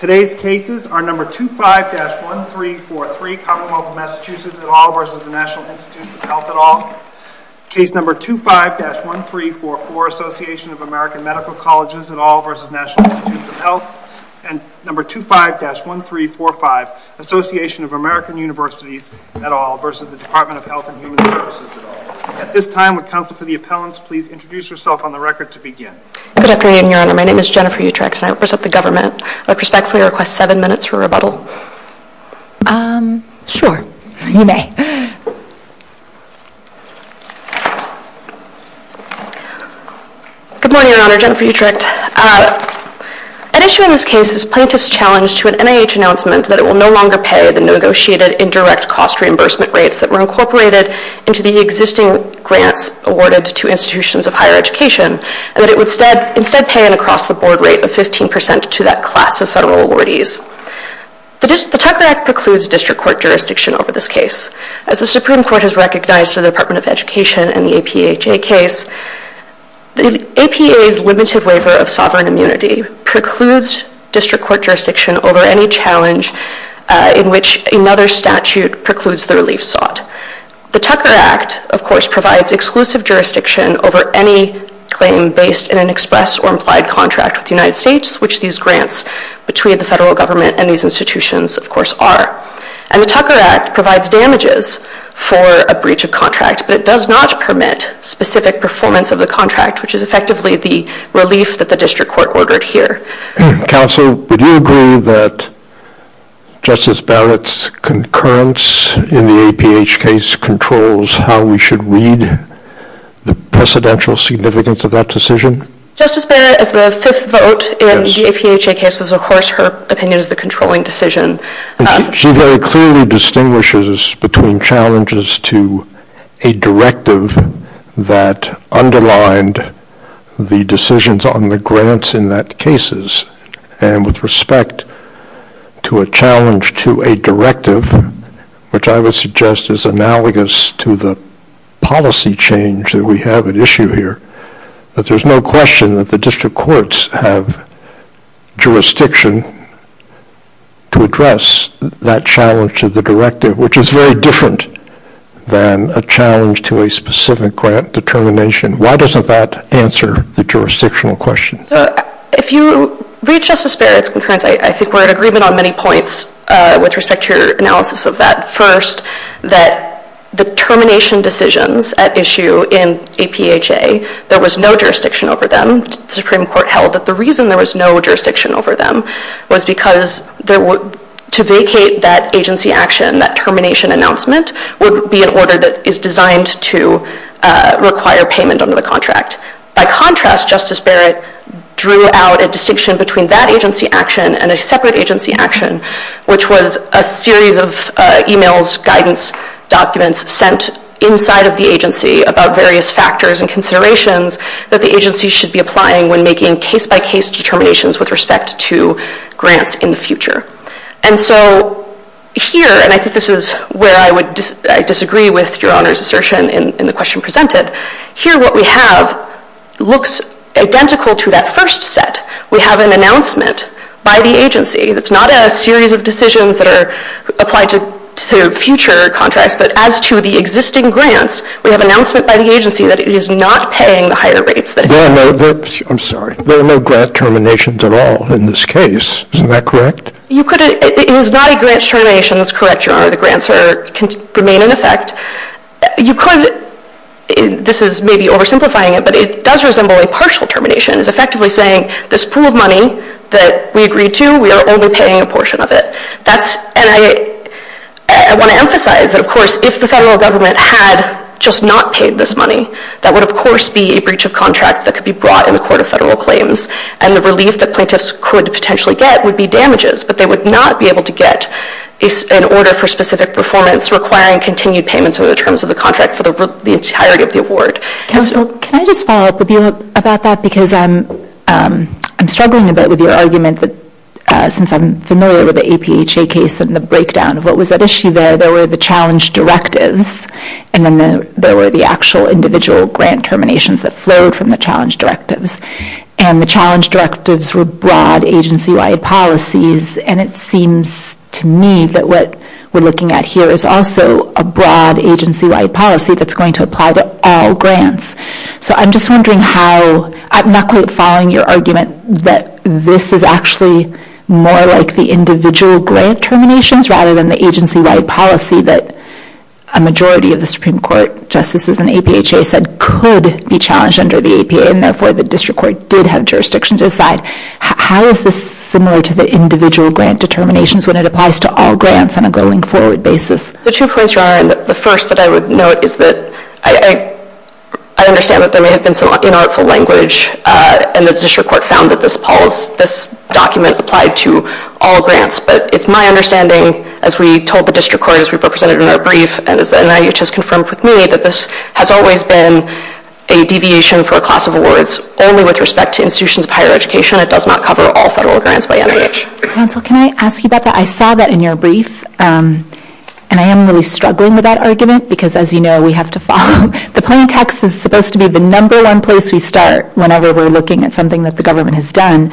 Today's cases are No. 25-1343, Commonwealth of Massachusetts et al. v. National Institutes of Health et al., Case No. 25-1344, Association of American Medical Colleges et al. v. National Institutes of Health, and No. 25-1345, Association of American Universities et al. v. Department of Health and Human Services et al. At this time, would counsel for the appellants please introduce yourself on the record to begin. Good afternoon, Your Honor. My name is Jennifer Utrecht and I represent the government. I would respectfully request seven minutes for rebuttal. Um, sure. You may. Good morning, Your Honor. Jennifer Utrecht. An issue in this case is plaintiff's challenge to an NIH announcement that it will no longer pay the negotiated indirect cost reimbursement rates that were incorporated into the existing grant awarded to institutions of higher education and that it would instead pay an across-the-board rate of 15% to that class of federal awardees. The Tucker Act precludes district court jurisdiction over this case. As the Supreme Court has recognized to the Department of Education in the APHA case, the APA's limited waiver of sovereign immunity precludes district court jurisdiction over any challenge in which another statute precludes the relief sought. The Tucker Act, of course, provides exclusive jurisdiction over any claim based in an express or implied contract with the United States, which these grants between the federal government and these institutions, of course, are. And the Tucker Act provides damages for a breach of contract, but it does not permit specific performance of the contract, which is effectively the relief that the district court ordered here. Counsel, would you agree that Justice Barrett's concurrence in the APH case controls how we should read the precedential significance of that decision? Justice Barrett is the fifth vote in the APHA case, so, of course, her opinion is the controlling decision. She very clearly distinguishes between challenges to a directive that underlined the decisions on the grants in that cases and with respect to a challenge to a directive, which I would suggest is analogous to the policy change that we have at issue here, that there's no question that the district courts have jurisdiction to address that challenge to the directive, which is very different than a challenge to a specific grant determination. Why doesn't that answer the jurisdictional question? If you read Justice Barrett's concurrence, I think we're in agreement on many points with respect to your analysis of that. First, that the termination decisions at issue in APHA, there was no jurisdiction over them. The Supreme Court held that the reason there was no jurisdiction over them was because to vacate that agency action, that termination announcement, would be an order that is designed to require payment under the contract. By contrast, Justice Barrett drew out a distinction between that agency action and a separate agency action, which was a series of e-mails, guidance, documents sent inside of the agency about various factors and considerations that the agency should be applying when making case-by-case determinations with respect to grants in the future. Here, and I think this is where I disagree with Your Honor's assertion in the question presented, here what we have looks identical to that first set. We have an announcement by the agency. It's not a series of decisions that are applied to future contracts, but as to the existing grants, we have an announcement by the agency that it is not paying the higher rates. I'm sorry. There are no grant terminations at all in this case. Isn't that correct? It was not a grant termination that's correct, Your Honor. The grants remain in effect. This is maybe oversimplifying it, but it does resemble a partial termination. It's effectively saying this pool of money that we agreed to, we are only paying a portion of it. I want to emphasize that, of course, if the federal government had just not paid this money, that would, of course, be a breach of contract that could be brought in the court of federal claims, and the relief that plaintiffs could potentially get would be damages, but they would not be able to get an order for specific performance requiring continued payments over the terms of the contract for the entirety of the award. Counselor, can I just follow up with you about that? I'm struggling a bit with your argument that since I'm familiar with the APHA case and the breakdown of what was at issue there, there were the challenge directives, and then there were the actual individual grant terminations that flowed from the challenge directives, and the challenge directives were broad agency-wide policies, and it seems to me that what we're looking at here is also a broad agency-wide policy that's going to apply to all grants, so I'm just wondering how... I'm not quite following your argument that this is actually more like the individual grant terminations rather than the agency-wide policy that a majority of the Supreme Court justices in the APHA said could be challenged under the APA, and therefore the district court did have jurisdictions aside. How is this similar to the individual grant determinations when it applies to all grants on a going-forward basis? The two points you're on, the first that I would note is that I understand that there may have been some inartful language, and the district court found that this document applied to all grants, but it's my understanding, as we told the district court, as we represented in our brief, and as NIH has confirmed with me, that this has always been a deviation for a class of awards only with respect to institutions of higher education. It does not cover all federal grants by NIH. Counsel, can I ask you about that? I saw that in your brief, and I am really struggling with that argument because, as you know, we have to follow... The plan text is supposed to be the number one place we start whenever we're looking at something that the government has done,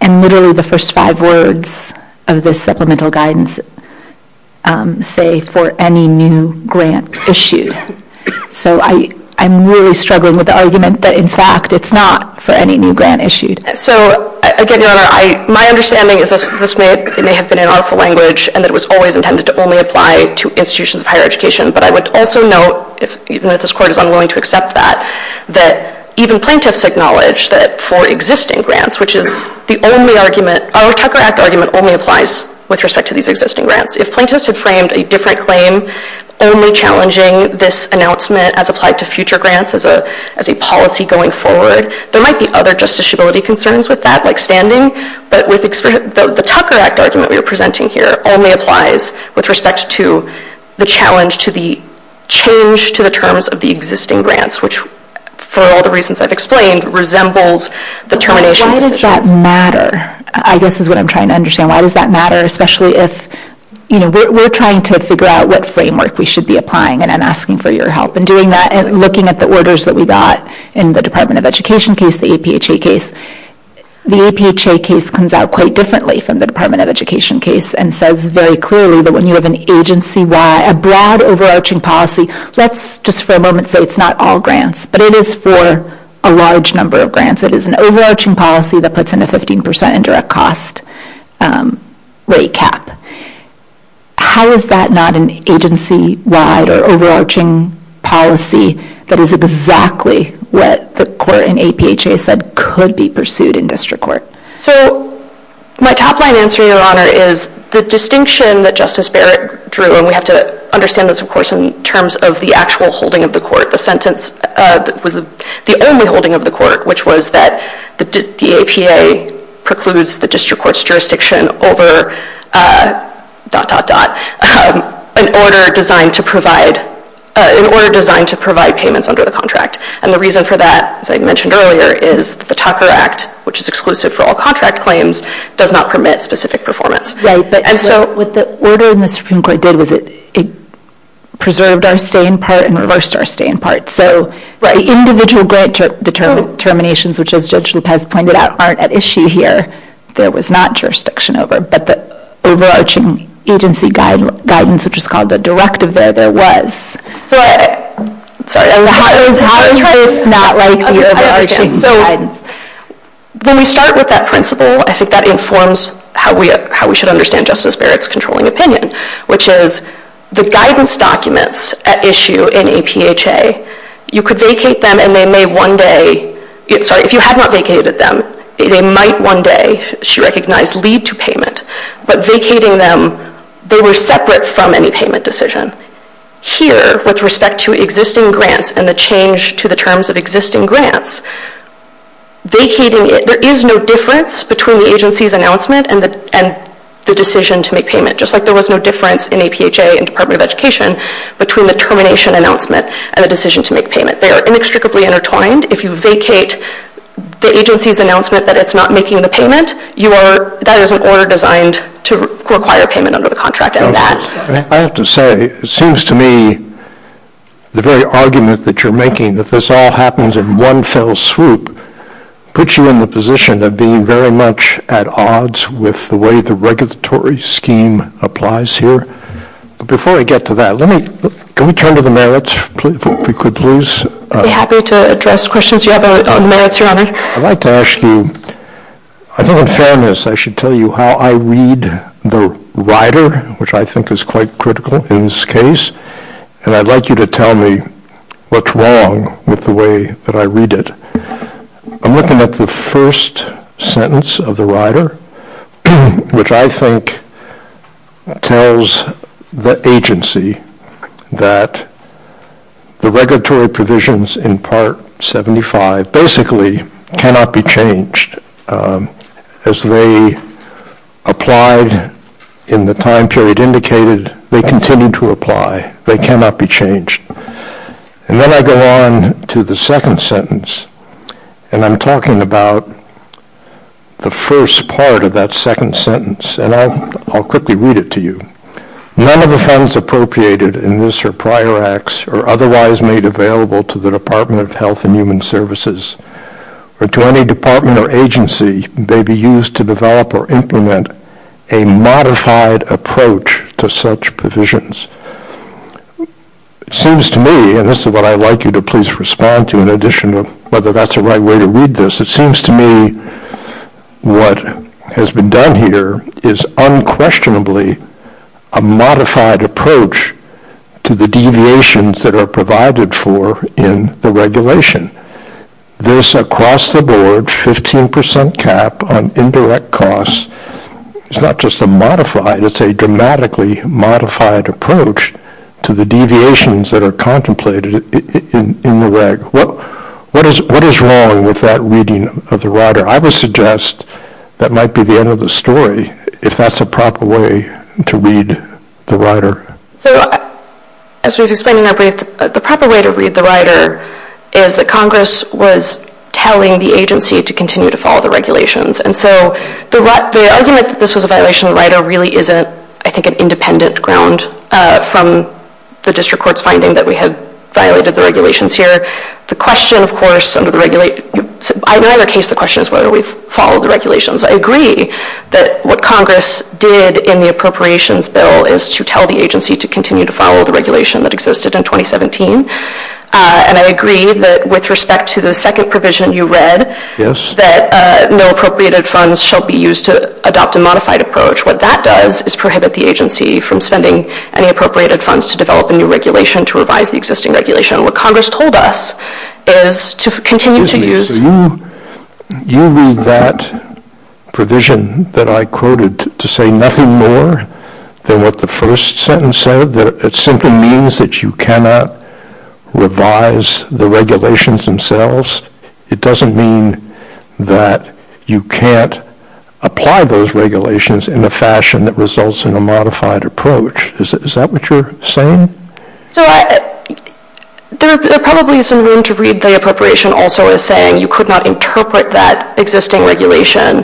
and literally the first five words of the supplemental guidance say, for any new grant issued, so I'm really struggling with the argument that, in fact, it's not for any new grant issued. So, again, Your Honor, my understanding is that this may have been inartful language and that it was always intended to only apply to institutions of higher education, but I would also note, even if this court is unwilling to accept that, that even plaintiffs acknowledge that for existing grants, which is the only argument... Our Tucker Act argument only applies with respect to these existing grants. If plaintiffs had framed a different claim only challenging this announcement as applied to future grants as a policy going forward, there might be other justiciability concerns with that, like standing, but the Tucker Act argument we are presenting here only applies with respect to the challenge to the change to the terms of the existing grants, which, for all the reasons I've explained, resembles the termination... Why does that matter, I guess, is what I'm trying to understand. Why does that matter, especially if we're trying to figure out what framework we should be applying in and asking for your help in doing that and looking at the orders that we got in the Department of Education case, the APHA case. The APHA case comes out quite differently from the Department of Education case and says very clearly that when you have an agency-wide, a broad overarching policy... Let's just for a moment say it's not all grants, but it is for a large number of grants. It is an overarching policy that puts in a 15% indirect cost rate cap. How is that not an agency-wide or overarching policy that is exactly what the court in APHA said could be pursued in district court? My top line answer, Your Honor, is the distinction that Justice Barrett drew, and we have to understand this, of course, in terms of the actual holding of the court, the sentence... The only holding of the court, which was that the APA precludes the district court's in order designed to provide payments under the contract. The reason for that, as I mentioned earlier, is the Tucker Act, which is exclusive for all contract claims, does not permit specific performance. What the order in the district court did was it preserved our stay-in part and reversed our stay-in part. Individual grant determinations, which, as Judge Lupe has pointed out, aren't at issue here. There was not jurisdiction over it, but the overarching agency guidance, which is called the directive there, there was. How does that link to the overarching guidance? When we start with that principle, I think that informs how we should understand Justice Barrett's controlling opinion, which is the guidance documents at issue in APHA, you could They might one day, she recognized, lead to payment, but vacating them, they were separate from any payment decision. Here, with respect to existing grants and the change to the terms of existing grants, vacating it, there is no difference between the agency's announcement and the decision to make payment, just like there was no difference in APHA and Department of Education between the termination announcement and the decision to make payment. They are inextricably intertwined. If you vacate the agency's announcement that it's not making the payment, that is an order designed to require payment under the contract. I have to say, it seems to me, the very argument that you're making, that this all happens in one fell swoop, puts you in the position of being very much at odds with the way the regulatory scheme applies here. Before I get to that, can we turn to the merits? I'd be happy to address questions you have on merits, Your Honor. I'd like to ask you, I think in fairness, I should tell you how I read the rider, which I think is quite critical in this case, and I'd like you to tell me what's wrong with the way that I read it. I'm looking at the first sentence of the rider, which I think tells the agency that the regulatory provisions in Part 75 basically cannot be changed. As they applied in the time period indicated, they continue to apply. They cannot be changed. Then I go on to the second sentence, and I'm talking about the first part of that second sentence, and I'll quickly read it to you. None of the funds appropriated in this or prior acts are otherwise made available to the Department of Health and Human Services or to any department or agency. They'd be used to develop or implement a modified approach to such provisions. It seems to me, and this is what I'd like you to please respond to in addition to whether that's the right way to read this, it seems to me what has been done here is unquestionably a modified approach to the deviations that are provided for in the regulation. This across the board, 15 percent cap on indirect costs, it's not just a modified, it's a dramatically modified approach to the deviations that are contemplated in the reg. What is wrong with that reading of the rider? I would suggest that might be the end of the story, if that's the proper way to read the The proper way to read the rider is that Congress was telling the agency to continue to follow the regulations. The argument that this was a violation of rider really isn't an independent ground from the district court's finding that we had violated the regulations here. The question, of course, I know in your case the question is whether we've followed the regulations. I agree that what Congress did in the appropriations bill is to tell the agency to continue to follow the regulation that existed in 2017. I agree that with respect to the second provision you read, that no appropriated funds shall be used to adopt a modified approach. What that does is prohibit the agency from spending any appropriated funds to develop a new regulation to revise the existing regulation. What Congress told us is to continue to use You read that provision that I quoted to say nothing more than what the first sentence said. It simply means that you cannot revise the regulations themselves. It doesn't mean that you can't apply those regulations in a fashion that results in a modified approach. Is that what you're saying? There probably is some room to read the appropriation also as saying you could not interpret that existing regulation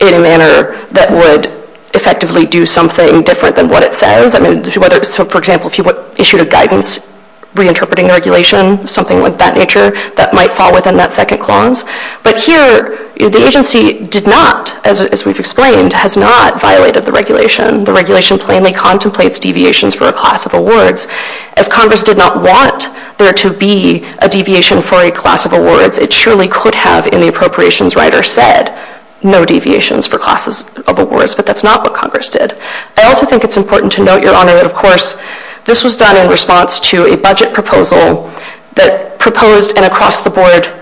in a manner that would effectively do something different than what it says. For example, if you issued a guidance reinterpreting the regulation, something like that nature, that might fall within that second clause. But here, the agency did not, as we've explained, has not violated the regulation. The regulation plainly contemplates deviations for a class of awards. As Congress did not want there to be a deviation for a class of awards, it surely could have in the appropriations right or said no deviations for classes of awards, but that's not what Congress did. I also think it's important to note, Your Honor, of course, this was done in response to a budget proposal that proposed an across-the-board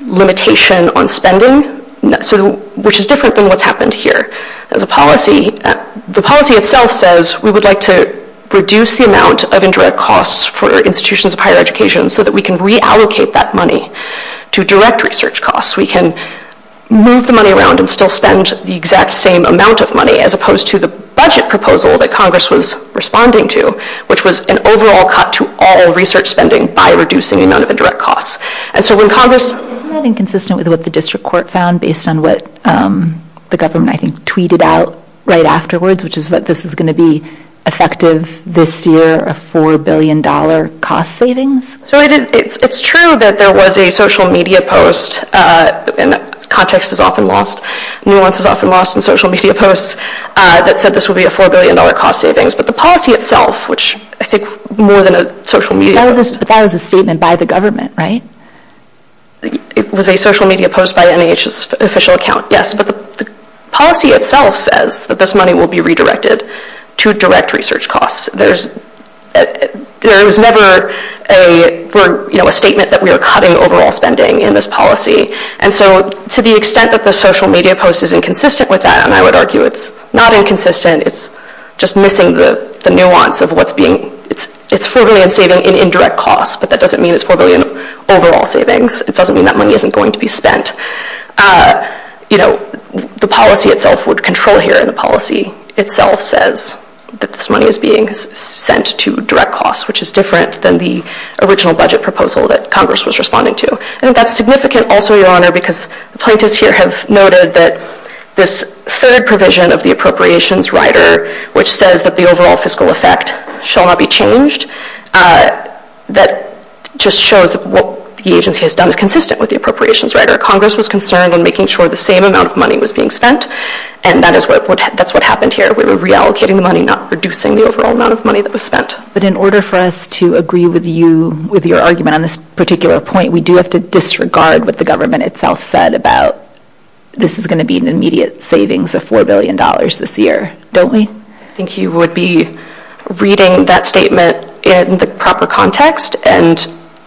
limitation on spending, which is different than what's happened here. The policy itself says we would like to reduce the amount of indirect costs for institutions of higher education so that we can reallocate that money to direct research costs. We can move the money around and still spend the exact same amount of money as opposed to the budget proposal that Congress was responding to, which was an overall cut to all research spending by reducing the amount of indirect costs. And so when Congress... Isn't that inconsistent with what the district court found based on what the government, I think, tweeted out right afterwards, which is that this is going to be effective this year, a $4 billion cost savings? So it's true that there was a social media post, and context is often lost, nuance is often lost in social media posts that said this would be a $4 billion cost savings. But the policy itself, which I think more than a social media... That was a statement by the government, right? It was a social media post by NIH's official account, yes. But the policy itself says that this money will be redirected to direct research costs. There's never a statement that we are cutting overall spending in this policy. And so to the extent that the social media post is inconsistent with that, and I would argue it's not inconsistent, it's just missing the nuance of what's being... It's $4 billion savings in indirect costs, but that doesn't mean it's $4 billion overall savings. It doesn't mean that money isn't going to be spent. The policy itself would control here, and the policy itself says that this money is being sent to direct costs, which is different than the original budget proposal that Congress was responding to. And that's significant also, Your Honor, because plaintiffs here have noted that this third provision of the appropriations rider, which says that the overall fiscal effect shall not be changed, that just shows what the agency has done is consistent with the appropriations rider. Congress was concerned in making sure the same amount of money was being spent, and that's what happened here. We were reallocating the money, not reducing the overall amount of money that was spent. But in order for us to agree with you, with your argument on this particular point, we do have to disregard what the government itself said about this is going to be an immediate savings of $4 billion this year, don't we? I think you would be reading that statement in the proper context and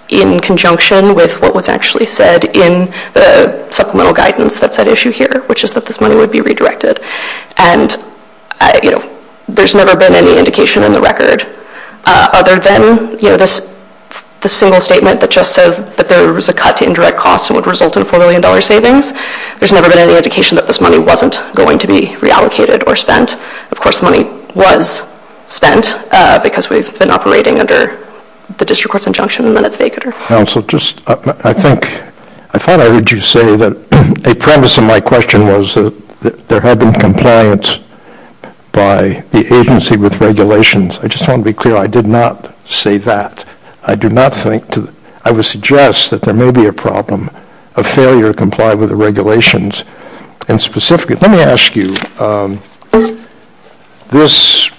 in conjunction with what was actually said in the supplemental guidance of that issue here, which is that this money would be redirected. And there's never been any indication in the record, other than this single statement that just says that there was a cut in direct costs that would result in $4 billion savings, there's never been any indication that this money wasn't going to be reallocated or spent. Of course, money was spent because we've been operating under the district court's injunction when it's stated. I thought I heard you say that a premise in my question was that there had been compliance by the agency with regulations. I just want to be clear, I did not say that. I would suggest that there may be a problem, a failure to comply with the regulations. Let me ask you, this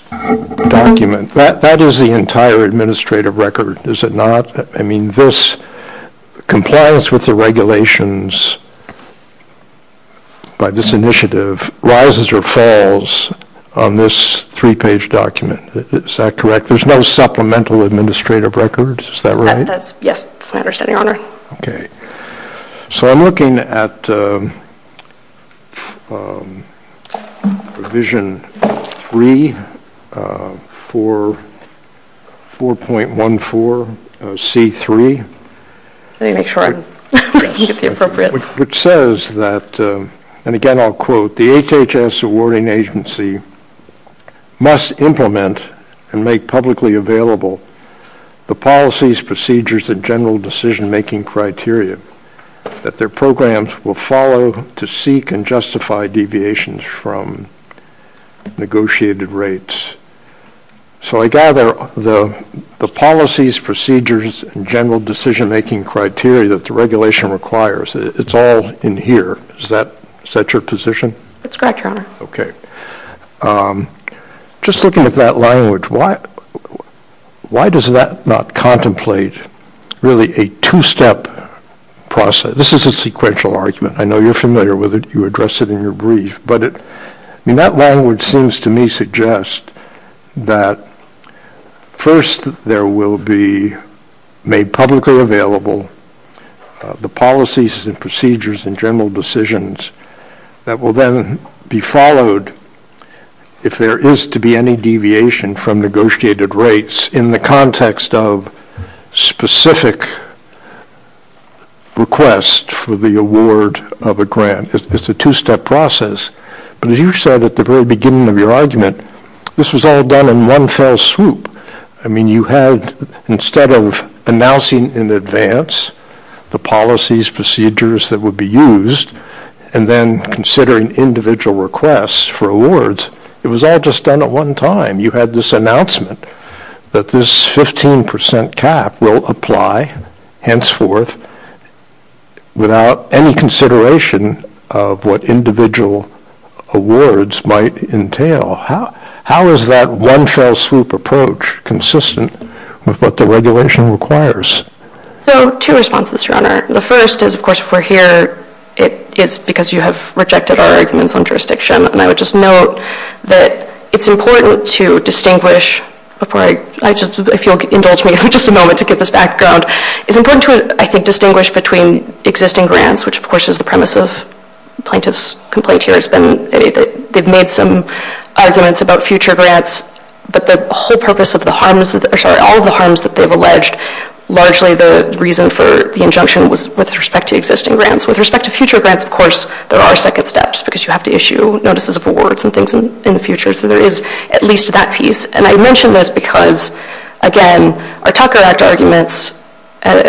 document, that is the entire administrative record, is it not? I mean, this compliance with the regulations by this initiative rises or falls on this three-page document, is that correct? There's no supplemental administrative records, is that right? Yes, I understand, Your Honor. I'm looking at provision 3, 4.14C3, which says that, and again I'll quote, the HHS awarding agency must implement and make publicly available the policies, procedures, and general decision-making criteria that their programs will follow to seek and justify deviations from negotiated rates. So I gather the policies, procedures, and general decision-making criteria that the regulation requires, it's all in here, is that your position? That's correct, Your Honor. Just looking at that language, why does that not contemplate really a two-step process? This is a sequential argument. I know you're familiar with it. You addressed it in your brief, but that language seems to me to suggest that first, there will be made publicly available the policies and procedures and general decisions that will then be followed if there is to be any deviation from negotiated rates in the context of specific request for the award of a grant. It's a two-step process. But as you said at the very beginning of your argument, this was all done in one fell swoop. I mean, you had, instead of announcing in advance the policies, procedures that would be used, and then considering individual requests for awards, it was all just done at one time. You had this announcement that this 15% cap will apply, henceforth, without any consideration of what individual awards might entail. How is that one-fell-swoop approach consistent with what the regulation requires? Two responses, Your Honor. The first is, of course, for here, it's because you have rejected our argument on jurisdiction. And I would just note that it's important to distinguish, if you'll indulge me for just a moment to give this background, it's important to, I think, distinguish between existing grants, which, of course, is the premises. Plaintiff's complaint here has been that they've made some arguments about future grants, but the whole purpose of the harms, sorry, all of the harms that they've alleged, largely the reason for the injunction was with respect to existing grants. With respect to future grants, of course, there are second steps, because you have to issue notices of awards and things in the future, so there is at least that piece. And I mention this because, again, our Tucker Act arguments,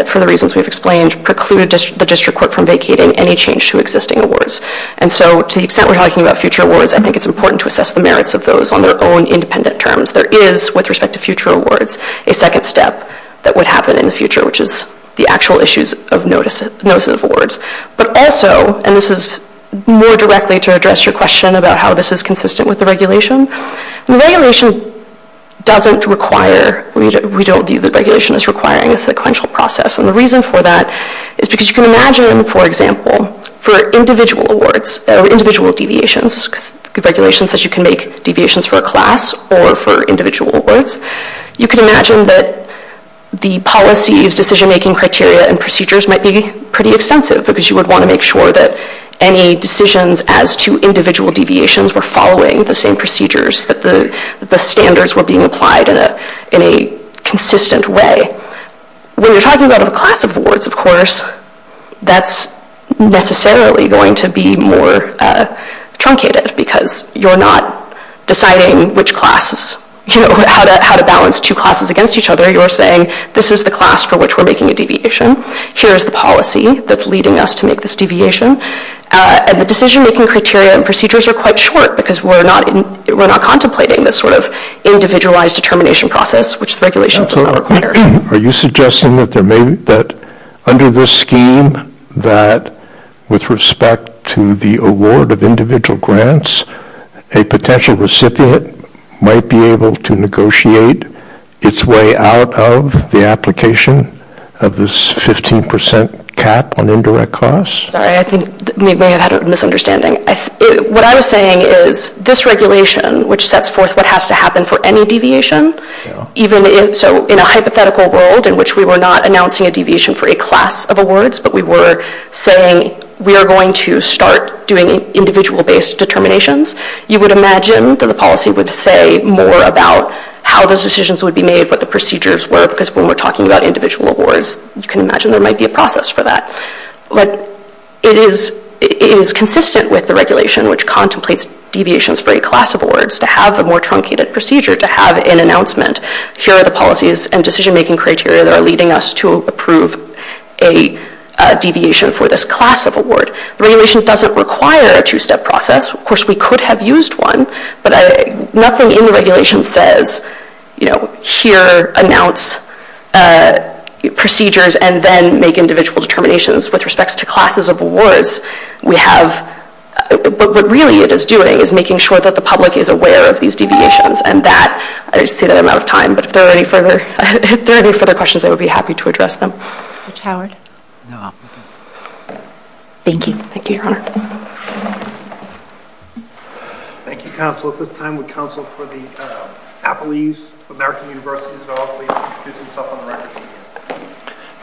for the reasons we've explained, precluded the district court from vacating any change to existing awards. And so, to the extent we're talking about future awards, I think it's important to assess the merits of those on their own independent terms. There is, with respect to future awards, a second step that would happen in the future, which is the actual issues of notices of awards. But also, and this is more directly to address your question about how this is consistent with the regulation, the regulation doesn't require, we don't view the regulation as requiring a sequential process, and the reason for that is because you can imagine, for example, for individual awards, individual deviations, regulations that you can make deviations for a class or for individual awards, you can imagine that the policies, decision-making criteria, and procedures might be pretty extensive, because you would want to make sure that any decisions as to individual deviations were following the same procedures, that the standards were being applied in a consistent way. When you're talking about a class of awards, of course, that's necessarily going to be more truncated, because you're not deciding how to balance two classes against each other. You're saying, this is the class for which we're making a deviation, here's the policy that's leading us to make this deviation, and the decision-making criteria and procedures are quite short, because we're not contemplating this sort of individualized determination process, which regulations don't require. Are you suggesting that under this scheme, that with respect to the award of individual grants, a potential recipient might be able to negotiate its way out of the application of this 15% cap on indirect costs? Sorry, I think you may have had a misunderstanding. What I'm saying is, this regulation, which sets forth what has to happen for any deviation, even in a hypothetical world, in which we were not announcing a deviation for a class of awards, but we were saying, we are going to start doing individual-based determinations, you would imagine that the policy would say more about how those decisions would be made, what the procedures were, because when we're talking about individual awards, you can imagine there might be a process for that. But it is consistent with the regulation, which contemplates deviations for a class of awards, to have a more truncated procedure, to have an announcement. Here are the policies and decision-making criteria that are leading us to approve a deviation for this class of award. The regulation doesn't require a two-step process. Of course, we could have used one, but nothing in the regulation says, here, announce procedures and then make individual determinations with respect to classes of awards. But what really it is doing is making sure that the public is aware of these deviations. I see that I'm out of time, but if there are any further questions, I would be happy to address them. Mr. Howard? No. Thank you. Thank you, Your Honor. Thank you, counsel. At this time, the counsel for the Appleese American University, so all of the institutions up on the right.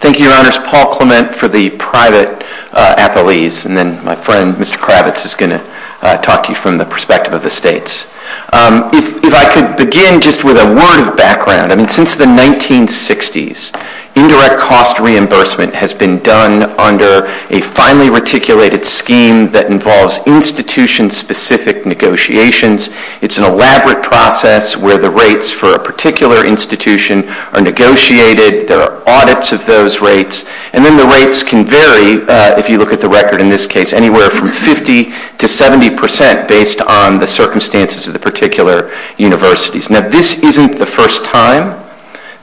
Thank you, Your Honors. Paul Clement for the private Appleese, and then my friend, Mr. Kravitz, is going to talk to you from the perspective of the states. If I could begin just with a word of background. Since the 1960s, indirect cost reimbursement has been done under a finely reticulated scheme that involves institution-specific negotiations. It's an elaborate process where the rates for a particular institution are negotiated. There are audits of those rates, and then the rates can vary, if you look at the record in this case, anywhere from 50% to 70% based on the circumstances of the particular universities. Now, this isn't the first time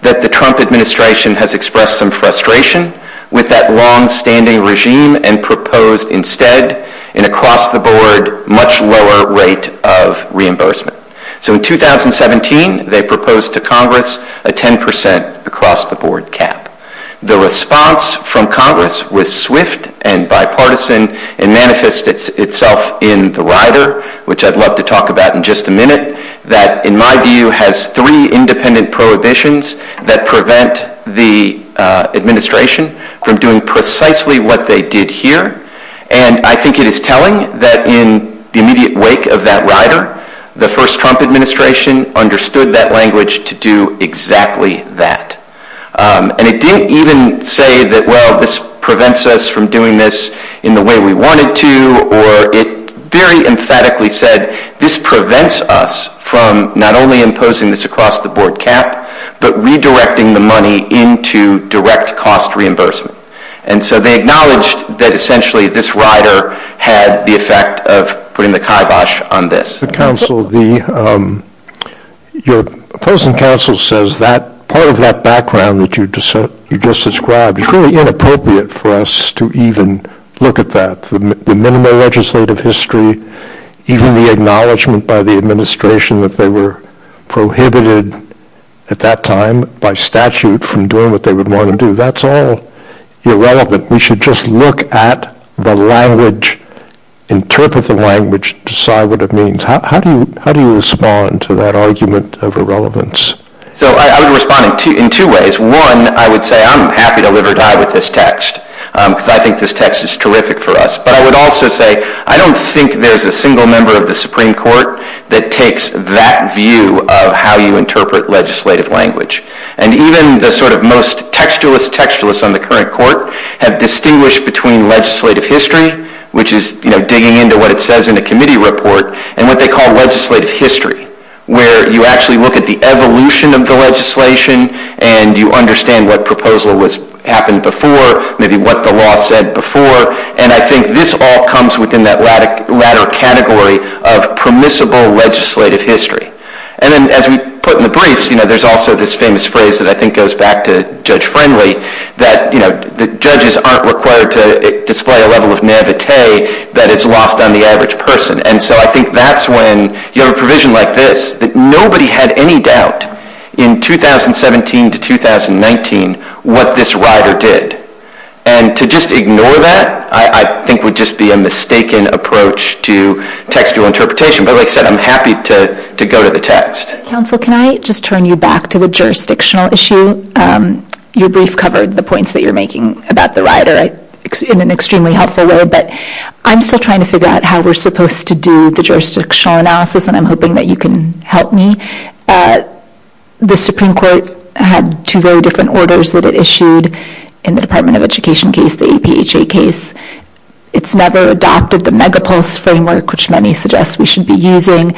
that the Trump administration has expressed some frustration with that longstanding regime and proposed instead an across-the-board, much lower rate of reimbursement. So in 2017, they proposed to Congress a 10% across-the-board cap. The response from Congress was swift and bipartisan and manifested itself in the rider, which I'd love to talk about in just a minute, that in my view has three independent prohibitions that prevent the administration from doing precisely what they did here. And I think it is telling that in the immediate wake of that rider, the first Trump administration understood that language to do exactly that. And it didn't even say that, well, this prevents us from doing this in the way we wanted to, or it very emphatically said this prevents us from not only imposing this across-the-board cap, but redirecting the money into direct cost reimbursement. And so they acknowledged that essentially this rider had the effect of putting the kibosh on this. Your opposing counsel says that part of that background that you just described is really inappropriate for us to even look at that, the minimal legislative history, even the acknowledgement by the administration that they were prohibited at that time by statute from doing what they would want to do. That's all irrelevant. We should just look at the language, interpret the language, decide what it means. How do you respond to that argument of irrelevance? So I would respond in two ways. One, I would say I'm happy to live or die with this text because I think this text is terrific for us. But I would also say I don't think there's a single member of the Supreme Court that takes that view of how you interpret legislative language. And even the sort of most textualist textualists on the current court have distinguished between legislative history, which is digging into what it says in a committee report, and what they call legislative history, where you actually look at the evolution of the legislation and you understand what proposal happened before, maybe what the law said before. And I think this all comes within that latter category of permissible legislative history. And then, as we put in the briefs, there's also this famous phrase that I think goes back to Judge Friendly, that judges aren't required to display a level of naivete that is locked on the average person. And so I think that's when you have a provision like this that nobody had any doubt in 2017 to 2019 what this rider did. And to just ignore that I think would just be a mistaken approach to textual interpretation. But like I said, I'm happy to go to the text. Counsel, can I just turn you back to the jurisdictional issue? Your brief covered the points that you're making about the rider in an extremely helpful way. But I'm still trying to figure out how we're supposed to do the jurisdictional analysis, and I'm hoping that you can help me. The Supreme Court had two very different orders that it issued in the Department of Education case, the APHA case. It's never adopted the megapulse framework, which many suggest we should be using.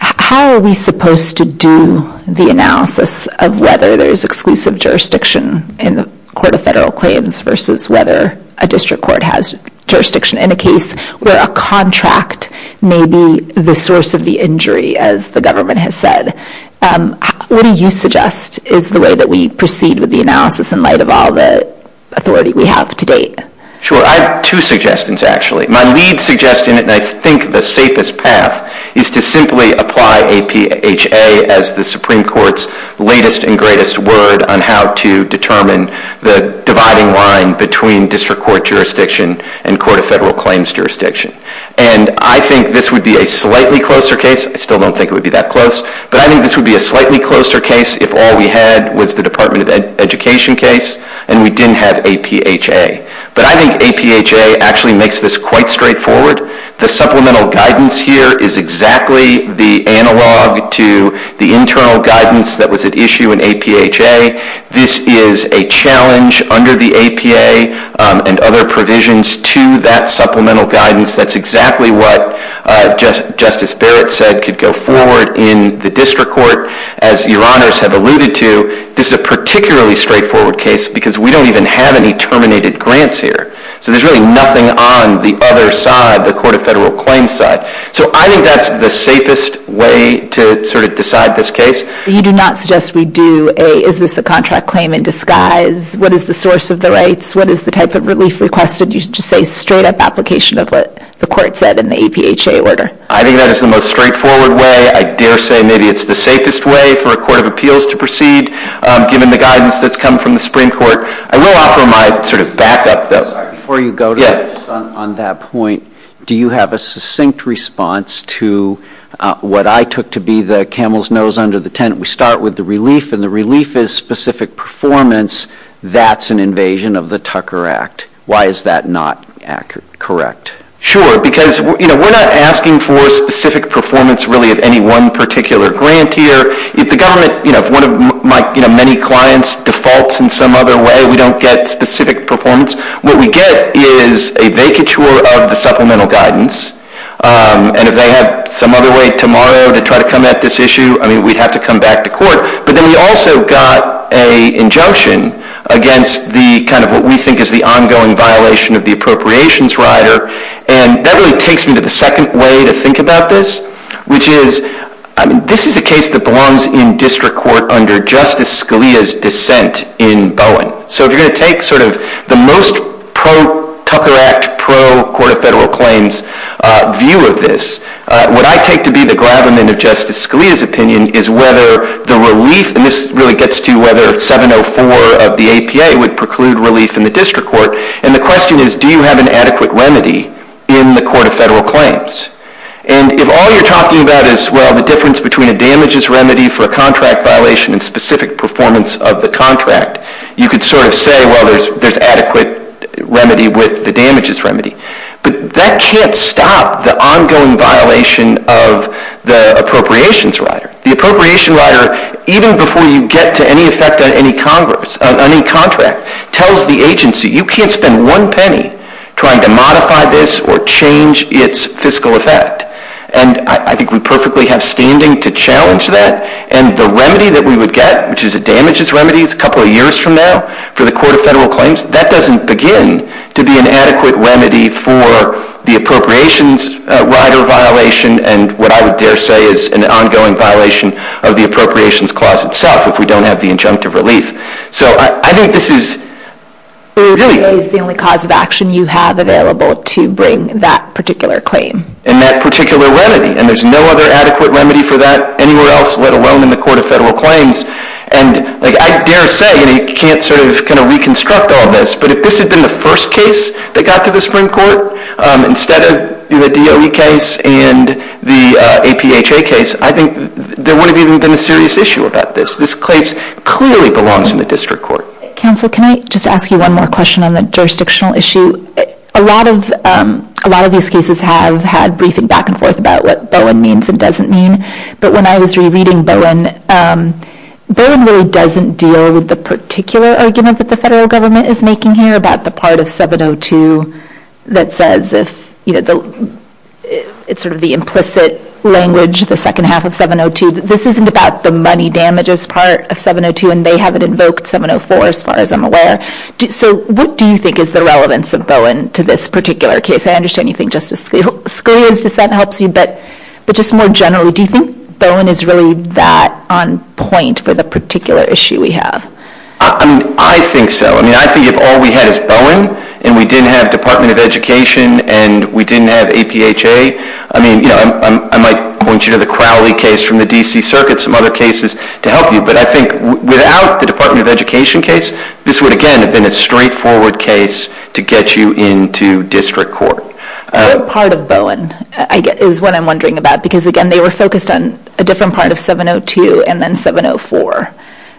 How are we supposed to do the analysis of whether there's exclusive jurisdiction in the court of federal claims versus whether a district court has jurisdiction in a case where a contract may be the source of the injury, as the government has said? What do you suggest is the way that we proceed with the analysis in light of all the authority we have to date? Sure. I have two suggestions, actually. My lead suggestion, and I think the safest path, is to simply apply APHA as the Supreme Court's latest and greatest word on how to determine the dividing line between district court jurisdiction and court of federal claims jurisdiction. And I think this would be a slightly closer case. I still don't think it would be that close. But I think this would be a slightly closer case if all we had was the Department of Education case and we didn't have APHA. But I think APHA actually makes this quite straightforward. The supplemental guidance here is exactly the analog to the internal guidance that was at issue in APHA. This is a challenge under the APHA and other provisions to that supplemental guidance. That's exactly what Justice Barrett said could go forward in the district court. As Your Honors have alluded to, this is a particularly straightforward case because we don't even have any terminated grants here. So there's really nothing on the other side, the court of federal claims side. So I think that's the safest way to sort of decide this case. You do not suggest we do a, is this a contract claim in disguise? What is the source of the rights? What is the type of release requested? You just say straight up application of what the court said in the APHA order. I think that is the most straightforward way. I dare say maybe it's the safest way for a court of appeals to proceed given the guidance that's come from the Supreme Court. I will offer my sort of back up. Before you go on that point, do you have a succinct response to what I took to be the camel's nose under the tent? We start with the relief and the relief is specific performance. That's an invasion of the Tucker Act. Why is that not correct? Sure, because we're not asking for specific performance really of any one particular grant here. If the government, if one of my many clients defaults in some other way, we don't get specific performance. What we get is a vacature of the supplemental guidance. And if they have some other way tomorrow to try to come at this issue, I mean, we'd have to come back to court. But then we also got an injunction against the kind of what we think is the ongoing violation of the appropriations rider. And that really takes me to the second way to think about this, which is this is a case that belongs in district court under Justice Scalia's dissent in Bowen. So if you're going to take sort of the most pro-Tucker Act, pro-court of federal claims view of this, what I take to be the gravamen of Justice Scalia's opinion is whether the relief, and this really gets to whether 704 of the APA would preclude relief in the district court, and the question is do you have an adequate remedy in the court of federal claims? And if all you're talking about is, well, the difference between a damages remedy for a contract violation and specific performance of the contract, you could sort of say, well, there's adequate remedy with the damages remedy. But that can't stop the ongoing violation of the appropriations rider. The appropriations rider, even before you get to any effect on any contract, tells the agency, you can't spend one penny trying to modify this or change its fiscal effect. And I think we perfectly have standing to challenge that, and the remedy that we would get, which is a damages remedy a couple of years from now for the court of federal claims, that doesn't begin to be an adequate remedy for the appropriations rider violation and what I would dare say is an ongoing violation of the appropriations clause itself if we don't have the injunctive relief. So I think this is really... It is the only cause of action you have available to bring that particular claim. And that particular remedy, and there's no other adequate remedy for that anywhere else, let alone in the court of federal claims. And I dare say you can't sort of reconstruct all this, but if this had been the first case that got to the Supreme Court instead of the DOE case and the APHA case, I think there wouldn't even have been a serious issue about this. This case clearly belongs in the district court. Counsel, can I just ask you one more question on the jurisdictional issue? A lot of these cases have had briefing back and forth about what BOIN means and doesn't mean, but when I was re-reading BOIN, BOIN really doesn't deal with the particular argument that the federal government is making here about the part of 702 that says this, you know, it's sort of the implicit language, the second half of 702, that this isn't about the money damages part of 702 and they haven't invoked 704 as far as I'm aware. So what do you think is the relevance of BOIN to this particular case? I understand you think Justice Scalia's defense helps you, but just more generally, do you think BOIN is really that on point for the particular issue we have? I mean, I think so. I mean, I think if all we had is BOIN and we didn't have Department of Education and we didn't have APHA, I mean, you know, I might point you to the Crowley case from the D.C. Circuit, some other cases to help you, but I think without the Department of Education case, this would, again, have been a straightforward case to get you into district court. What part of BOIN is what I'm wondering about? Because, again, they were focused on a different part of 702 and then 704.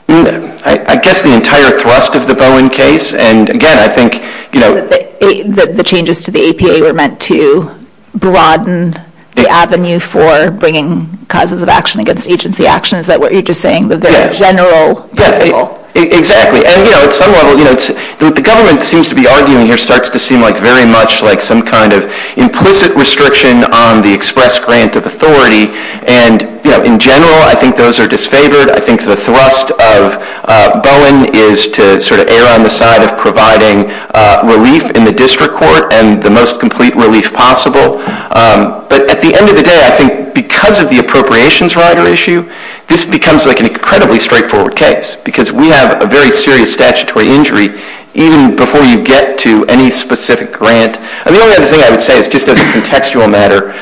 I guess the entire thrust of the BOIN case, and, again, I think, you know... The changes to the APA were meant to broaden the avenue for bringing causes of action against agency actions that were, you're just saying, the very general appeal. Exactly, and, you know, the government seems to be arguing, and it starts to seem very much like some kind of implicit restriction on the express grant of authority. And, you know, in general, I think those are disfavored. I think the thrust of BOIN is to sort of err on the side of providing relief in the district court and the most complete relief possible. But at the end of the day, I think because of the appropriations rider issue, this becomes like an incredibly straightforward case because we have a very serious statutory injury even before you get to any specific grant. The only other thing I would say is just as a contextual matter,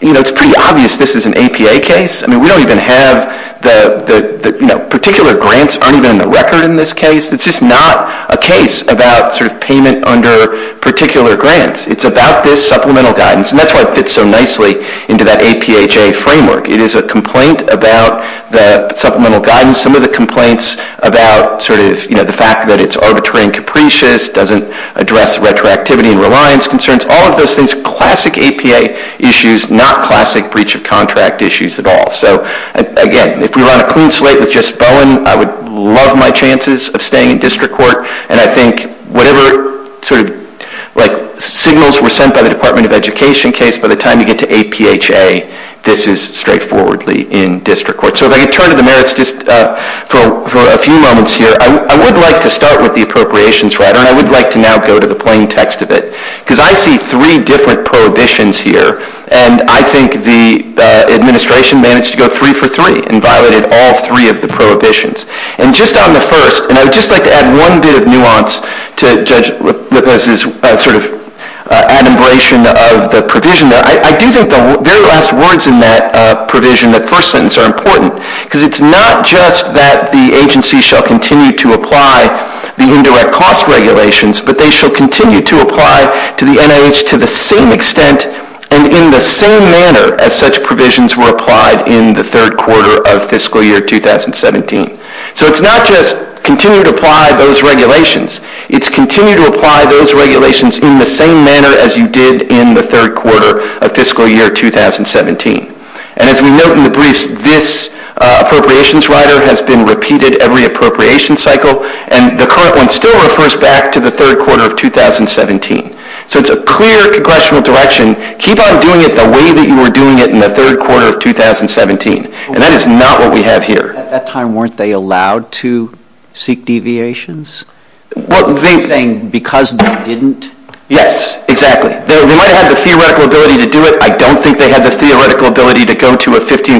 you know, it's pretty obvious this is an APA case. I mean, we don't even have the, you know, particular grants under the record in this case. It's just not a case about sort of payment under particular grants. It's about this supplemental guidance, and that's why it fits so nicely into that APHA framework. It is a complaint about the supplemental guidance, some of the complaints about sort of, you know, the fact that it's arbitrary and capricious, doesn't address retroactivity and reliance concerns, all of those things, classic APA issues, not classic breach of contract issues at all. So, again, if we were on a clean slate with just BOIN, I would love my chances of staying in district court. And I think whatever sort of like signals were sent by the Department of Education case, by the time you get to APHA, this is straightforwardly in district court. So if I could turn to the merits just for a few moments here. I would like to start with the appropriations rather, and I would like to now go to the plain text of it, because I see three different prohibitions here, and I think the administration managed to go three for three and violated all three of the prohibitions. And just on the first, and I would just like to add one bit of nuance to Judge Whitmer's sort of adumbration of the provision there. I do think the very last words in that provision, that first sentence, are important, because it's not just that the agency shall continue to apply the indirect cost regulations, but they shall continue to apply to the NIH to the same extent and in the same manner as such provisions were applied in the third quarter of fiscal year 2017. So it's not just continue to apply those regulations. It's continue to apply those regulations in the same manner as you did in the third quarter of fiscal year 2017. And as we note in the briefs, this appropriations rider has been repeated every appropriations cycle, and the current one still refers back to the third quarter of 2017. So it's a clear question of direction. Keep on doing it the way that you were doing it in the third quarter of 2017. And that is not what we have here. At that time, weren't they allowed to seek deviations? Weren't they saying because they didn't? Yes, exactly. They might have the theoretical ability to do it. I don't think they had the theoretical ability to go to a 15%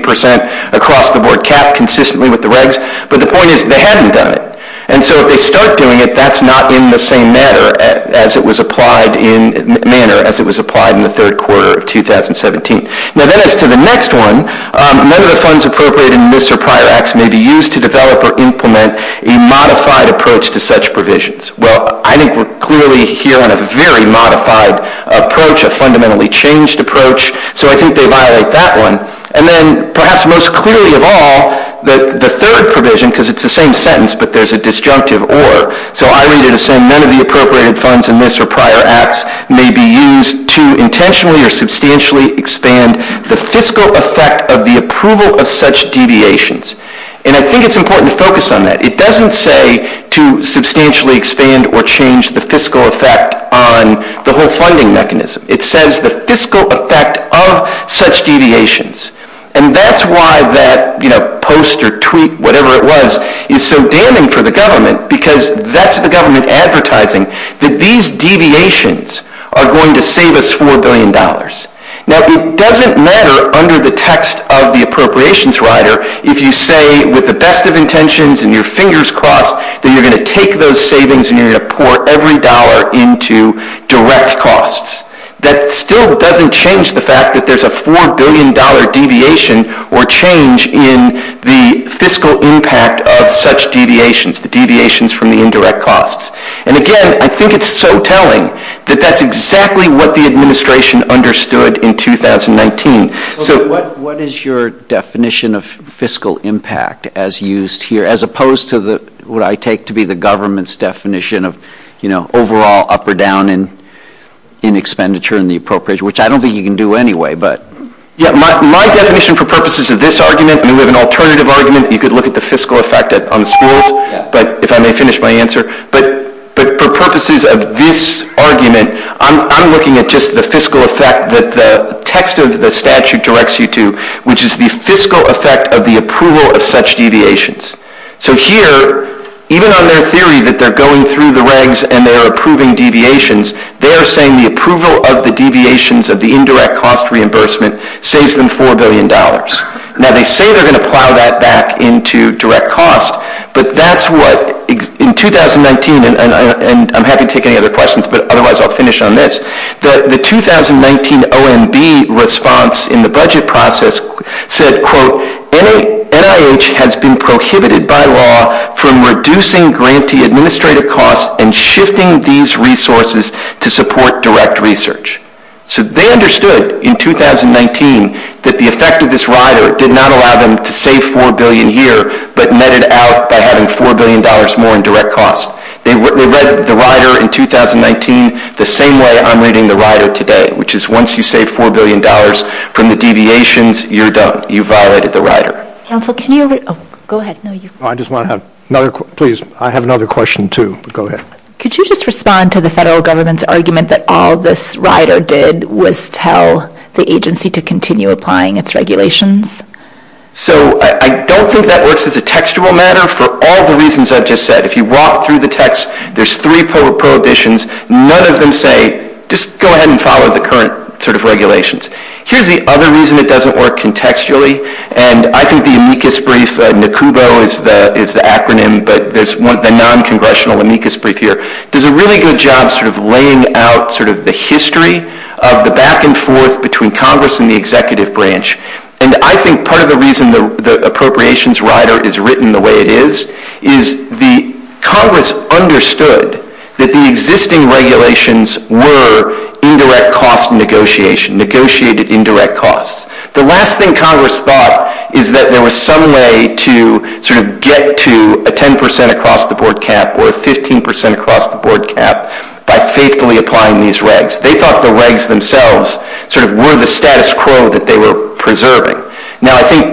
across-the-board cap consistently with the regs. But the point is they hadn't done it. And so if they start doing it, that's not in the same manner as it was applied in the third quarter of 2017. Now then as to the next one, none of the funds appropriated in this or prior acts may be used to develop or implement a modified approach to such provisions. Well, I think we're clearly here on a very modified approach, a fundamentally changed approach. So I think they violate that one. And then perhaps most clearly of all, the third provision, because it's the same sentence, but there's a disjunctive or, so I read it as saying none of the appropriated funds in this or prior acts may be used to intentionally or substantially expand the fiscal effect of the approval of such deviations. And I think it's important to focus on that. It doesn't say to substantially expand or change the fiscal effect on the whole funding mechanism. It says the fiscal effect of such deviations. And that's why that post or tweet, whatever it was, is so damning for the government because that's the government advertising that these deviations are going to save us $4 billion. Now it doesn't matter under the text of the appropriations rider if you say with the best of intentions and your fingers crossed that you're going to take those savings and you're going to pour every dollar into direct costs. That still doesn't change the fact that there's a $4 billion deviation or change in the fiscal impact of such deviations, deviations from the indirect costs. And again, I think it's so telling that that's exactly what the administration understood in 2019. So what is your definition of fiscal impact as used here as opposed to what I take to be the government's definition of, you know, overall up or down in expenditure and the appropriation, which I don't think you can do anyway. Yeah, my definition for purposes of this argument, we live in an alternative argument. You could look at the fiscal effect on the schools, if I may finish my answer. But for purposes of this argument, I'm looking at just the fiscal effect that the text of the statute directs you to, which is the fiscal effect of the approval of such deviations. So here, even on their theory that they're going through the regs and they're approving deviations, they're saying the approval of the deviations of the indirect cost reimbursement saves them $4 billion. Now, they say they're going to plow that back into direct cost, but that's what, in 2019, and I'm happy to take any other questions, but otherwise I'll finish on this. The 2019 OMB response in the budget process said, quote, NIH has been prohibited by law from reducing grantee administrative costs and shifting these resources to support direct research. So they understood in 2019 that the effect of this rider did not allow them to save $4 billion a year, but netted out by having $4 billion more in direct cost. They read the rider in 2019 the same way I'm reading the rider today, which is once you save $4 billion from the deviations, you're done. You've violated the rider. I just want to have another question. Please, I have another question, too. Go ahead. Could you just respond to the federal government's argument that all this rider did was tell the agency to continue applying its regulations? So I don't think that works as a textual matter for all the reasons I just said. If you walk through the text, there's three prohibitions. None of them say just go ahead and follow the current sort of regulations. Here's the other reason it doesn't work contextually, and I think the amicus brief, NACUBO is the acronym, but there's a non-congressional amicus brief here, does a really good job of laying out sort of the history of the back and forth between Congress and the executive branch. And I think part of the reason the appropriations rider is written the way it is is Congress understood that the existing regulations were indirect cost negotiation, negotiated indirect costs. The last thing Congress thought is that there was some way to sort of get to a 10% across the board cap or a 15% across the board cap by faithfully applying these regs. They thought the regs themselves sort of were the status quo that they were preserving. Now, I think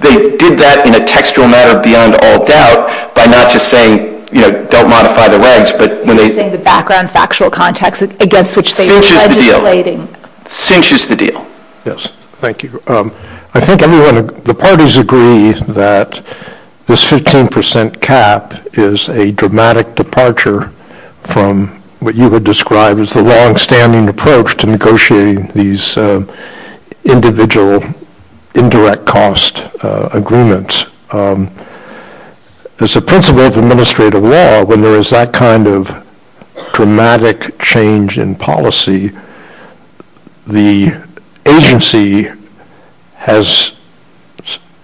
they did that in a textual matter beyond all doubt by not just saying, you know, don't modify the regs, but when they... You're saying the background factual context against which they were legislating. Since she's the deal. Yes, thank you. I think everyone, the parties agree that this 15% cap is a dramatic departure from what you would describe as the longstanding approach to negotiating these individual indirect cost agreements. As a principle of administrative law, when there is that kind of dramatic change in policy, the agency has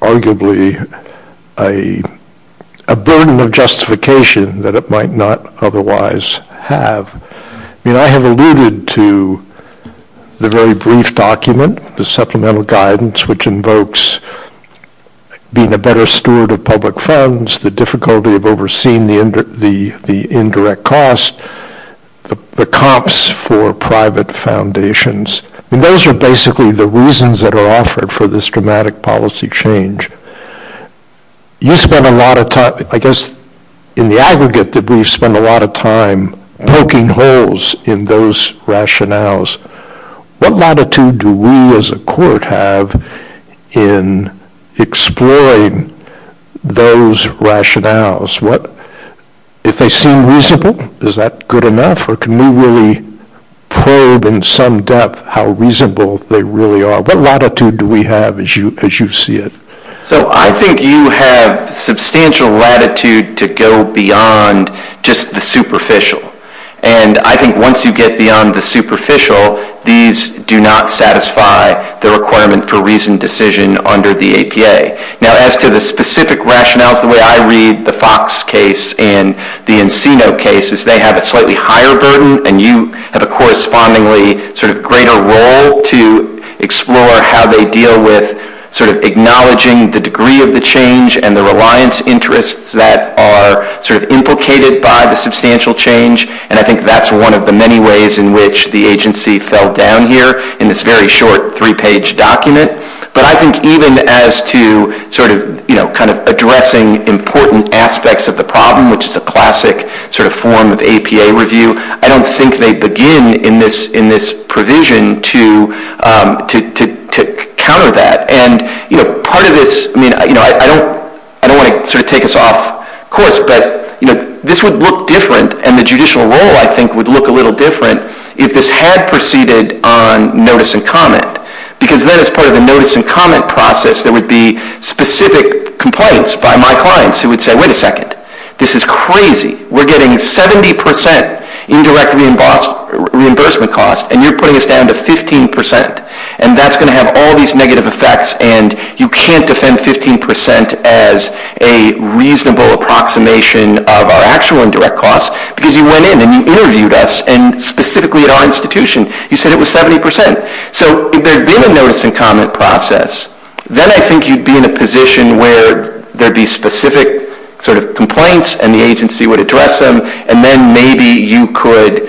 arguably a burden of justification that it might not otherwise have. I have alluded to the very brief document, the supplemental guidance, which invokes being a better steward of public funds, the difficulty of overseeing the indirect costs, the comps for private foundations. Those are basically the reasons that are offered for this dramatic policy change. You spend a lot of time, I guess in the aggregate that we spend a lot of time, poking holes in those rationales. What latitude do we as a court have in exploring those rationales? If they seem reasonable, is that good enough? Or can we really probe in some depth how reasonable they really are? What latitude do we have as you see it? I think you have substantial latitude to go beyond just the superficial. I think once you get beyond the superficial, these do not satisfy the requirement for reasoned decision under the APA. As to the specific rationale, the way I read the Fox case and the Encino case is they have a slightly higher burden, and you have a correspondingly greater role to explore how they deal with acknowledging the degree of the change and the reliance interests that are implicated by the substantial change. I think that's one of the many ways in which the agency fell down here in this very short three-page document. But I think even as to addressing important aspects of the problem, which is the classic form of APA review, I don't think they begin in this provision to counter that. I don't want to take us off course, but this would look different, and the judicial role, I think, would look a little different if this had proceeded on notice and comment. Because then as part of the notice and comment process, there would be specific complaints by my clients who would say, wait a second, this is crazy. We're getting 70% indirect reimbursement costs, and you're putting us down to 15%, and that's going to have all these negative effects, and you can't defend 15% as a reasonable approximation of our actual indirect costs, because you went in and interviewed us, and specifically at our institution, you said it was 70%. So if they're doing the notice and comment process, then I think you'd be in a position where there would be specific sort of complaints, and the agency would address them, and then maybe you could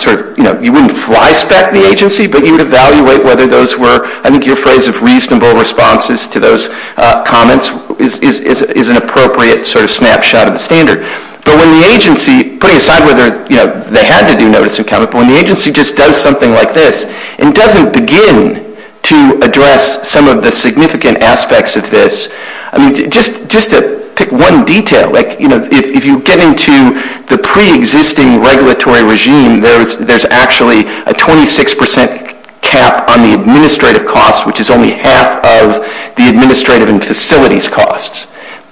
sort of, you know, you wouldn't fly-spec the agency, but you would evaluate whether those were, I think your phrase of reasonable responses to those comments is an appropriate sort of snapshot of the standard. But when the agency, putting aside whether they had to do notice and comment, but when the agency just does something like this and doesn't begin to address some of the significant aspects of this, I mean, just to pick one detail, like, you know, if you get into the preexisting regulatory regime, there's actually a 26% cap on the administrative costs, which is only half of the administrative and facilities costs.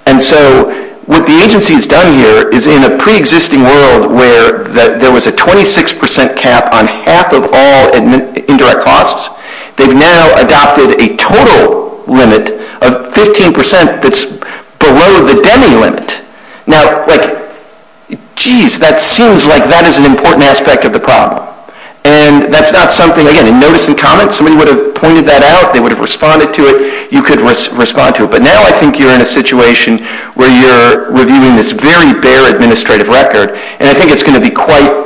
And so what the agency has done here is, in a preexisting world where there was a 26% cap on half of all indirect costs, they've now adopted a total limit of 15% that's below the deming limit. Now, like, geez, that seems like that is an important aspect of the problem. And that's not something, again, notice and comments, we would have pointed that out, they would have responded to it, you could respond to it. But now I think you're in a situation where you're reviewing this very bare administrative record, and I think it's going to be quite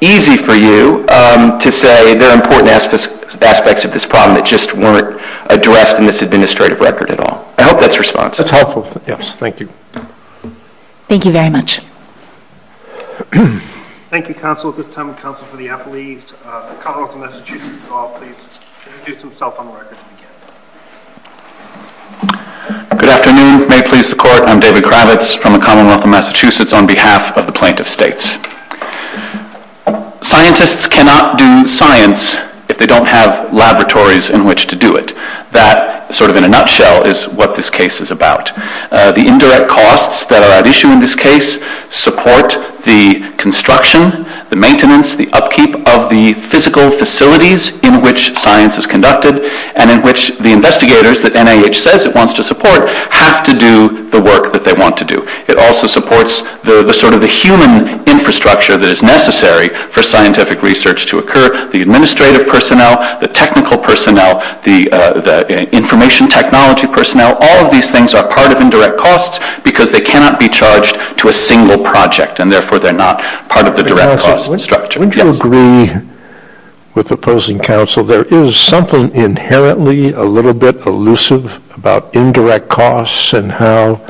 easy for you to say there are important aspects of this problem that just weren't addressed in this administrative record at all. I hope that's responsive. That's helpful. Yes, thank you. Thank you very much. Thank you, counsel. At this time, the counsel for the appellees. The Commonwealth of Massachusetts will all please introduce themselves on the record. Good afternoon. May it please the Court, I'm David Kravitz from the Commonwealth of Massachusetts on behalf of the plaintiff states. Scientists cannot do science if they don't have laboratories in which to do it. That, sort of in a nutshell, is what this case is about. The indirect costs that are at issue in this case support the construction, the maintenance, the upkeep of the physical facilities in which science is conducted and in which the investigators that NIH says it wants to support have to do the work that they want to do. It also supports the sort of the human infrastructure that is necessary for scientific research to occur. The administrative personnel, the technical personnel, the information technology personnel, all of these things are part of indirect costs because they cannot be charged to a single project and, therefore, they're not part of the direct cost structure. Wouldn't you agree with the opposing counsel there is something inherently a little bit elusive about indirect costs and how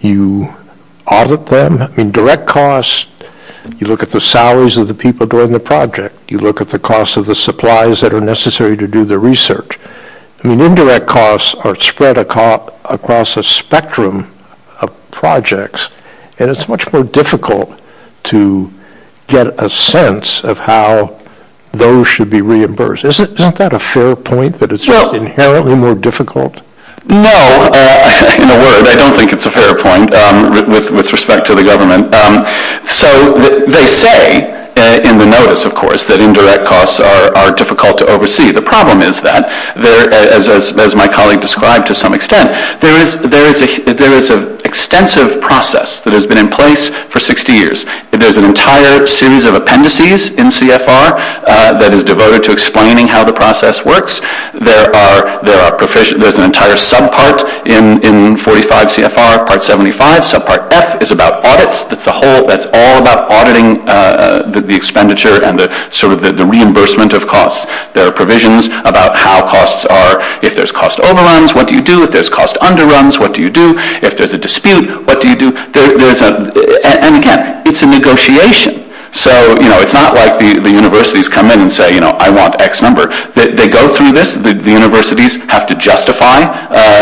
you audit them? I mean, direct costs, you look at the salaries of the people doing the project. You look at the cost of the supplies that are necessary to do the research. I mean, indirect costs are spread across a spectrum of projects, and it's much more difficult to get a sense of how those should be reimbursed. Isn't that a fair point that it's just inherently more difficult? No. In a word, I don't think it's a fair point with respect to the government. So they say in the notice, of course, that indirect costs are difficult to oversee. The problem is that, as my colleague described to some extent, there is an extensive process that has been in place for 60 years. There's an entire series of appendices in CFR that is devoted to explaining how the process works. There's an entire subpart in 45 CFR Part 75. Subpart F is about audits. It's all about auditing the expenditure and the reimbursement of costs. There are provisions about how costs are. If there's cost overruns, what do you do? If there's cost underruns, what do you do? If there's a dispute, what do you do? And, again, it's a negotiation. So it's not like the universities come in and say, you know, I want X number. They go through this. The universities have to justify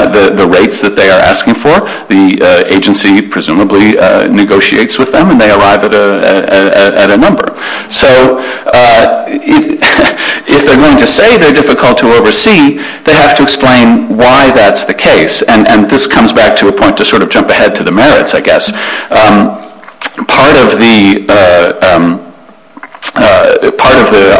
the rates that they are asking for. The agency presumably negotiates with them, and they arrive at a number. So if the numbers say they're difficult to oversee, they have to explain why that's the case. And this comes back to a point to sort of jump ahead to the merits, I guess. Part of the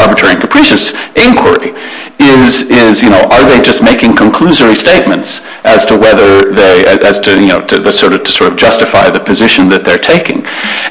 arbitrary and capricious inquiry is, you know, are they just making conclusory statements as to whether they as to, you know, to sort of justify the position that they're taking.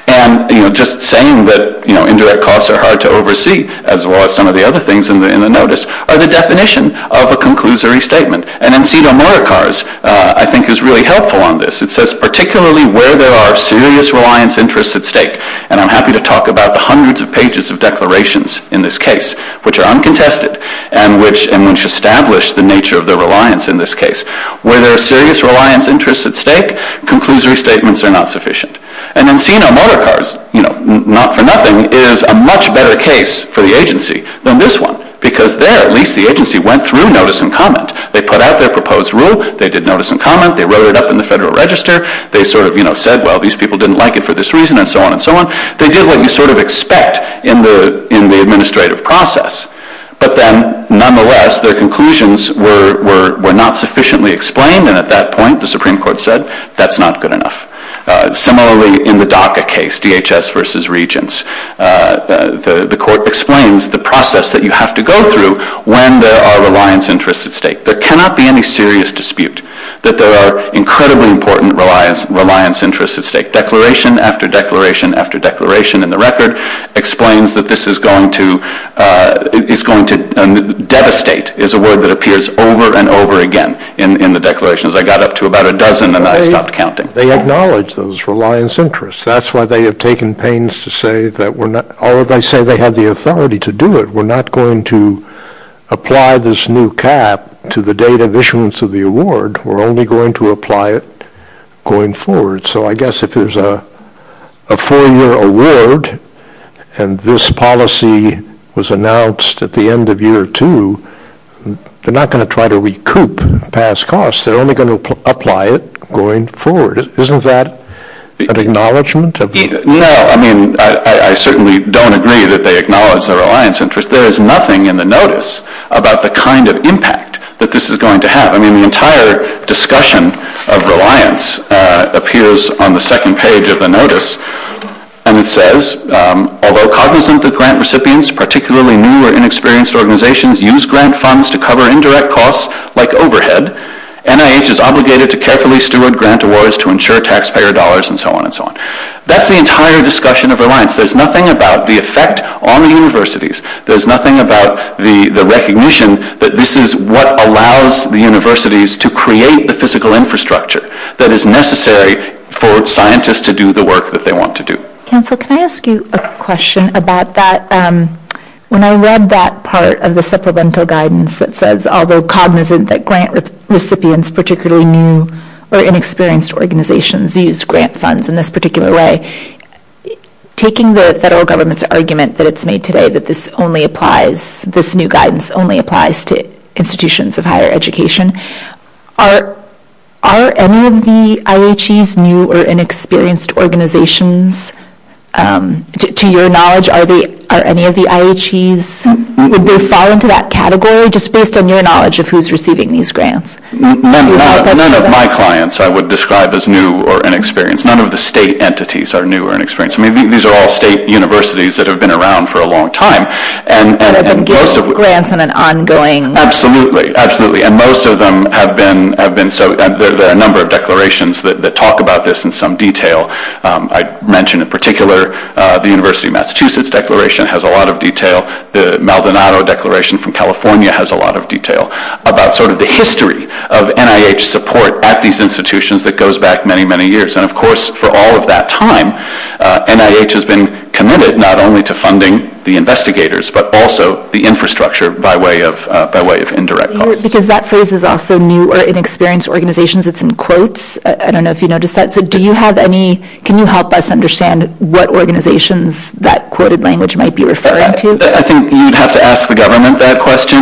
And, you know, just saying that, you know, indirect costs are hard to oversee, as well as some of the other things in the notice, are the definition of a conclusory statement. And M.C. Delmora Carr's, I think, is really helpful on this. It says, particularly where there are serious reliance interests at stake, and I'm happy to talk about the hundreds of pages of declarations in this case, which are uncontested and which establish the nature of the reliance in this case. Where there are serious reliance interests at stake, conclusory statements are not sufficient. And M.C. Delmora Carr's, you know, not for nothing, is a much better case for the agency than this one. Because there, at least, the agency went through notice and comment. They put out their proposed rule. They did notice and comment. They wrote it up in the Federal Register. They sort of, you know, said, well, these people didn't like it for this reason, and so on and so on. They did what you sort of expect in the administrative process. But then, nonetheless, their conclusions were not sufficiently explained. And at that point, the Supreme Court said, that's not good enough. Similarly, in the DACA case, DHS versus Regents, the court explains the process that you have to go through when there are reliance interests at stake. There cannot be any serious dispute that there are incredibly important reliance interests at stake. Declaration after declaration after declaration in the record explains that this is going to devastate, is a word that appears over and over again in the declarations. I got up to about a dozen, and I stopped counting. They acknowledge those reliance interests. That's why they have taken pains to say that we're not, or they say they have the authority to do it. We're not going to apply this new cap to the date of issuance of the award. We're only going to apply it going forward. So I guess if there's a four-year award, and this policy was announced at the end of year two, they're not going to try to recoup past costs. They're only going to apply it going forward. Isn't that an acknowledgment? No, I mean, I certainly don't agree that they acknowledge the reliance interest. There is nothing in the notice about the kind of impact that this is going to have. I mean, the entire discussion of reliance appears on the second page of the notice, and it says, although cognizant that grant recipients, particularly new or inexperienced organizations, use grant funds to cover indirect costs like overhead, NIH is obligated to carefully steward grant awards to ensure taxpayer dollars, and so on and so on. That's the entire discussion of reliance. There's nothing about the effect on the universities. There's nothing about the recognition that this is what allows the universities to create the physical infrastructure that is necessary for scientists to do the work that they want to do. Cancel. Can I ask you a question about that? When I read that part of the supplemental guidance that says, although cognizant that grant recipients, particularly new or inexperienced organizations, use grant funds in this particular way, taking the federal government's argument that it's made today that this only applies, this new guidance only applies to institutions of higher education, are any of the IHEs new or inexperienced organizations? To your knowledge, are any of the IHEs? Would they fall into that category, just based on your knowledge of who's receiving these grants? None of my clients I would describe as new or inexperienced. None of the state entities are new or inexperienced. I mean, these are all state universities that have been around for a long time. And those are grants in an ongoing process. Absolutely. Absolutely. And most of them have been. So there are a number of declarations that talk about this in some detail. I mentioned in particular the University of Massachusetts declaration has a lot of detail. The Maldonado Declaration from California has a lot of detail about sort of the history of NIH support at these institutions that goes back many, many years. And, of course, for all of that time, NIH has been committed not only to funding the investigators, but also the infrastructure by way of indirect costs. Because that phrase is also new or inexperienced organizations. It's in quotes. I don't know if you noticed that. Can you help us understand what organizations that quoted language might be referring to? I think you'd have to ask the government that question.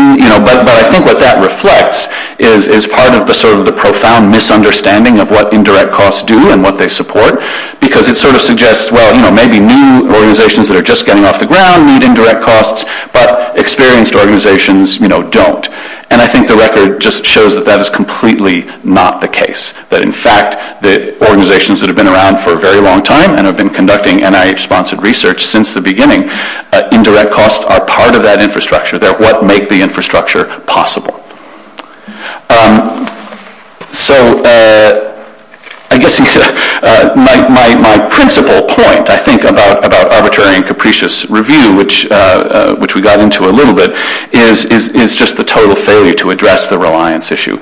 But I think what that reflects is part of sort of the profound misunderstanding of what indirect costs do and what they support because it sort of suggests, well, maybe new organizations that are just getting off the ground need indirect costs, but experienced organizations don't. And I think the record just shows that that is completely not the case. But, in fact, the organizations that have been around for a very long time and have been conducting NIH-sponsored research since the beginning, indirect costs are part of that infrastructure. They're what make the infrastructure possible. So I guess my principal point, I think, about arbitrary and capricious review, which we got into a little bit, is just the total failure to address the reliance issue.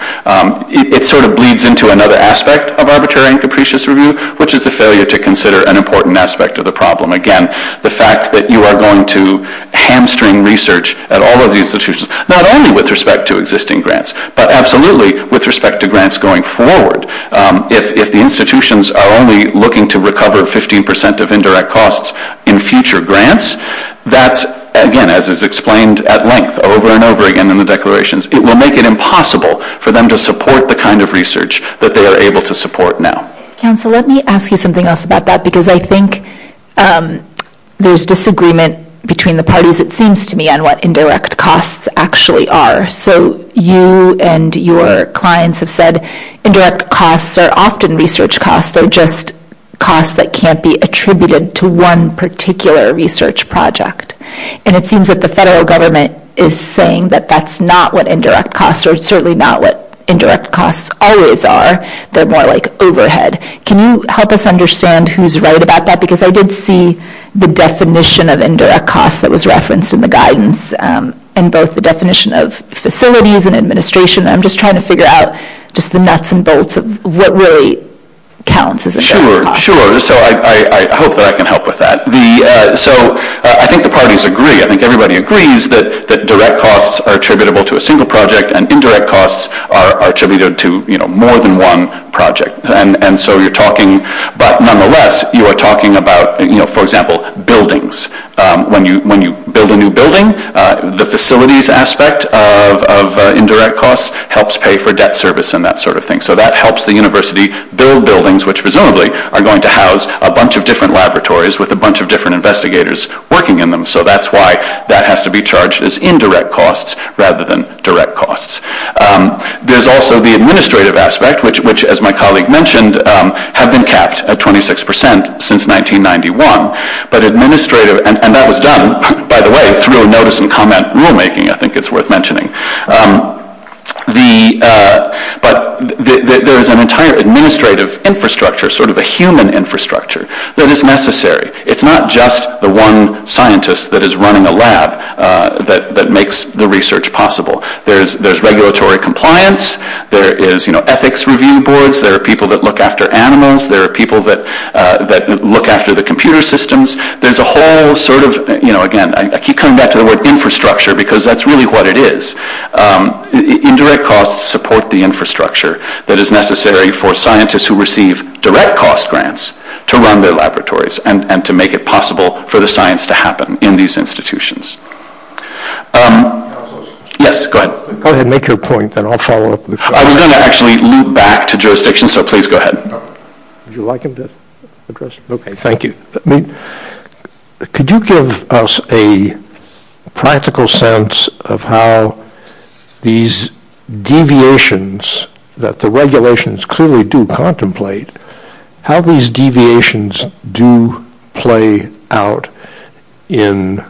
It sort of bleeds into another aspect of arbitrary and capricious review, which is the failure to consider an important aspect of the problem. Again, the fact that you are going to hamstring research at all of these institutions, not only with respect to existing grants, but absolutely with respect to grants going forward. If the institutions are only looking to recover 15% of indirect costs in future grants, that, again, as is explained at length over and over again in the declarations, it will make it impossible for them to support the kind of research that they are able to support now. Council, let me ask you something else about that because I think there's disagreement between the parties, it seems to me, on what indirect costs actually are. So you and your clients have said indirect costs are often research costs or just costs that can't be attributed to one particular research project. And it seems that the federal government is saying that that's not what indirect costs or certainly not what indirect costs always are. They're more like overhead. Can you help us understand who's right about that? Because I did see the definition of indirect costs that was referenced in the guidance and both the definition of facilities and administration. I'm just trying to figure out just the nuts and bolts of what really counts as a direct cost. Sure, sure. So I hope that I can help with that. So I think the parties agree. I think everybody agrees that direct costs are attributable to a single project and indirect costs are attributable to more than one project. And so you're talking about, nonetheless, you are talking about, for example, buildings. When you build a new building, the facilities aspect of indirect costs helps pay for debt service and that sort of thing. So that helps the university build buildings which presumably are going to house a bunch of different laboratories with a bunch of different investigators working in them. So that's why that has to be charged as indirect costs rather than direct costs. There's also the administrative aspect, which, as my colleague mentioned, has been capped at 26% since 1991. But administrative, and that was done, by the way, through a notice and comment rulemaking, I think it's worth mentioning. But there is an entire administrative infrastructure, sort of a human infrastructure, that is necessary. It's not just the one scientist that is running a lab that makes the research possible. There's regulatory compliance. There is ethics review boards. There are people that look after animals. There are people that look after the computer systems. There's a whole sort of, again, I keep coming back to the word infrastructure because that's really what it is. Indirect costs support the infrastructure that is necessary for scientists who receive direct cost grants to run their laboratories and to make it possible for the science to happen in these institutions. Yes, go ahead. Go ahead and make your point, then I'll follow up. I was going to actually loop back to jurisdiction, so please go ahead. Would you like him to address? Okay, thank you. Could you give us a practical sense of how these deviations that the regulations clearly do contemplate, how these deviations do play out in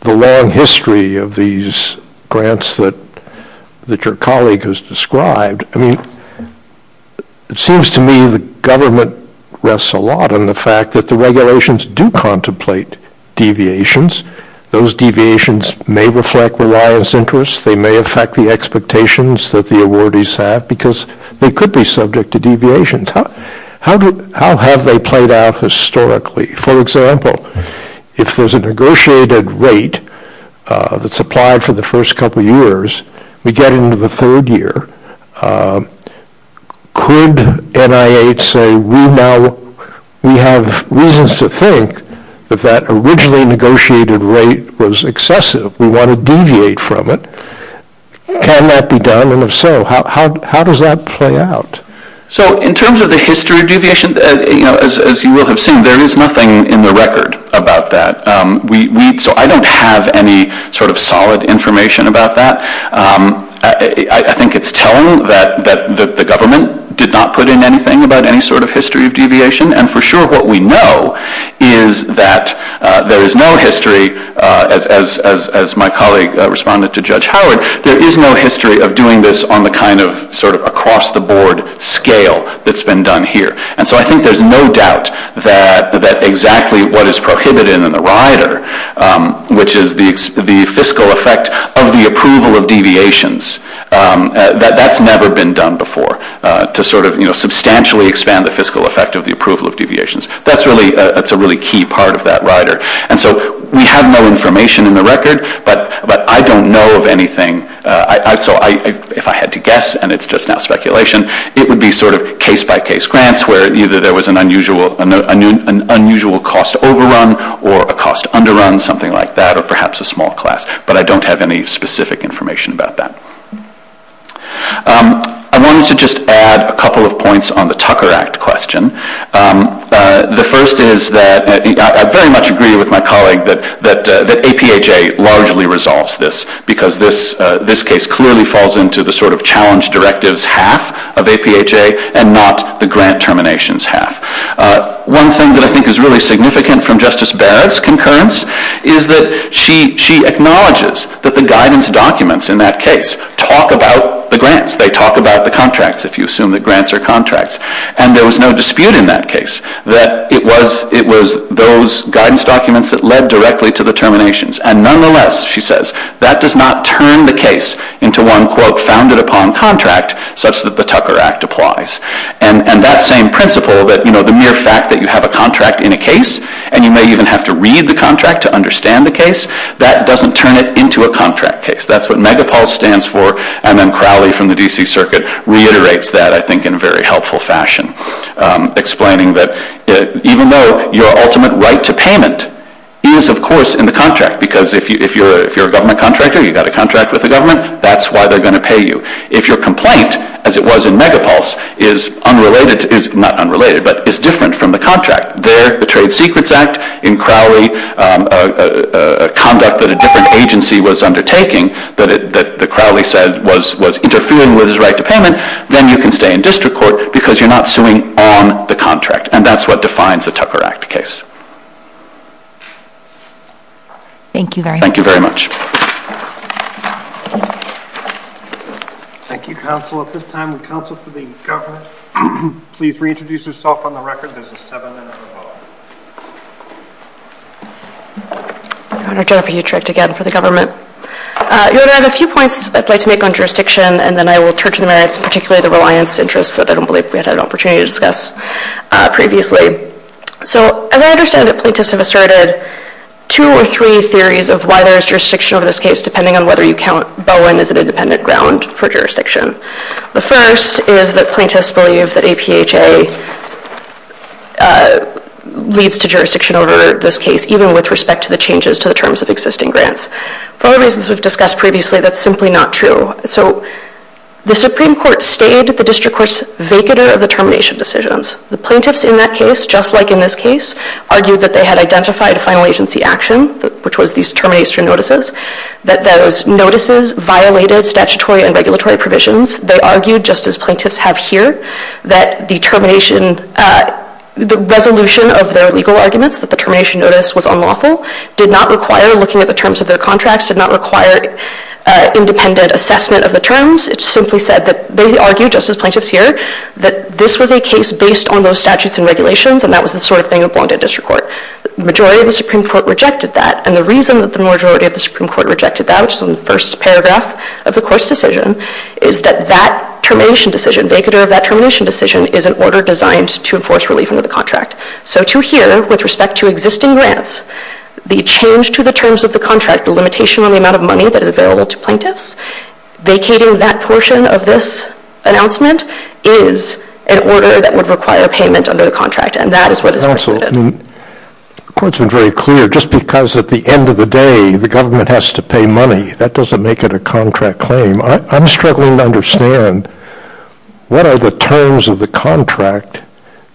the long history of these grants that your colleague has described? I mean, it seems to me the government rests a lot on the fact that the regulations do contemplate deviations. Those deviations may reflect reliance interests. They may affect the expectations that the awardees have because they could be subject to deviations. How have they played out historically? For example, if there's a negotiated rate that's applied for the first couple of years, we get into the third year. Could NIH say we have reasons to think that that originally negotiated rate was excessive, we want to deviate from it? Can that be done? And if so, how does that play out? So in terms of the history of deviation, as you will have seen, there is nothing in the record about that. So I don't have any sort of solid information about that. I think it's telling that the government did not put in anything about any sort of history of deviation, and for sure what we know is that there is no history, as my colleague responded to Judge Howard, there is no history of doing this on the kind of sort of across-the-board scale that's been done here. And so I think there's no doubt that exactly what is prohibited in the rider, which is the fiscal effect of the approval of deviations, that that's never been done before, to sort of substantially expand the fiscal effect of the approval of deviations. That's a really key part of that rider. And so we have no information in the record, but I don't know of anything. So if I had to guess, and it's just now speculation, it would be sort of case-by-case grants where either there was an unusual cost overrun or a cost underrun, something like that, or perhaps a small class. But I don't have any specific information about that. I wanted to just add a couple of points on the Tucker Act question. The first is that I very much agree with my colleague that APHA largely resolves this because this case clearly falls into the sort of challenge directives half of APHA and not the grant terminations half. One thing that I think is really significant from Justice Barrett's concurrence is that she acknowledges that the guidance documents in that case talk about the grants. They talk about the contracts, if you assume that grants are contracts. And there was no dispute in that case that it was those guidance documents that led directly to the terminations. And nonetheless, she says, that does not turn the case into one, quote, founded upon contract such that the Tucker Act applies. And that same principle that the mere fact that you have a contract in a case and you may even have to read the contract to understand the case, that doesn't turn it into a contract case. That's what Megapulse stands for, and then Crowley from the D.C. Circuit reiterates that, I think, in a very helpful fashion, explaining that even though your ultimate right to payment is, of course, in the contract, because if you're a government contractor, you've got a contract with the government, that's why they're going to pay you. If your complaint, as it was in Megapulse, is unrelated, is not unrelated, but is different from the contract, there the Trade Secrets Act in Crowley, a conduct that a different agency was undertaking that Crowley said was interfering with his right to payment, then you can stay in district court because you're not suing on the contract, and that's what defines the Tucker Act case. Thank you very much. Thank you, counsel. At this time, the counsel for the government, please reintroduce yourself on the record. There's a seven-minute rebuttal. I'm Jennifer Utrecht, again, for the government. There are a few points I'd like to make on jurisdiction, and then I will turn to the merits, particularly the reliance interests, that I don't believe we had an opportunity to discuss previously. As I understand it, plaintiffs have asserted two or three theories of why there is jurisdiction over this case, depending on whether you count Bowen as an independent ground for jurisdiction. The first is that plaintiffs believe that APHA leads to jurisdiction over this case, even with respect to the changes to the terms of existing grants. For reasons we've discussed previously, that's simply not true. The Supreme Court stated that the district courts vacated the termination decisions. The plaintiffs in that case, just like in this case, argued that they had identified final agency action, which was these termination notices, that those notices violated statutory and regulatory provisions. They argued, just as plaintiffs have here, that the resolution of their legal arguments, that the termination notice was unlawful, did not require looking at the terms of their contracts, did not require independent assessment of the terms. It simply said that they argued, just as plaintiffs here, that this was a case based on those statutes and regulations, and that was the sort of thing that bonded district court. The majority of the Supreme Court rejected that, and the reason that the majority of the Supreme Court rejected that, which is in the first paragraph of the court's decision, is that that termination decision, vacater of that termination decision, is an order designed to enforce relief under the contract. So to here, with respect to existing grants, the change to the terms of the contract, the limitation on the amount of money that is available to plaintiffs, vacating that portion of this announcement is an order that would require payment under the contract, and that is what it is. The court's been very clear. Just because at the end of the day the government has to pay money, that doesn't make it a contract claim. I'm struggling to understand what are the terms of the contract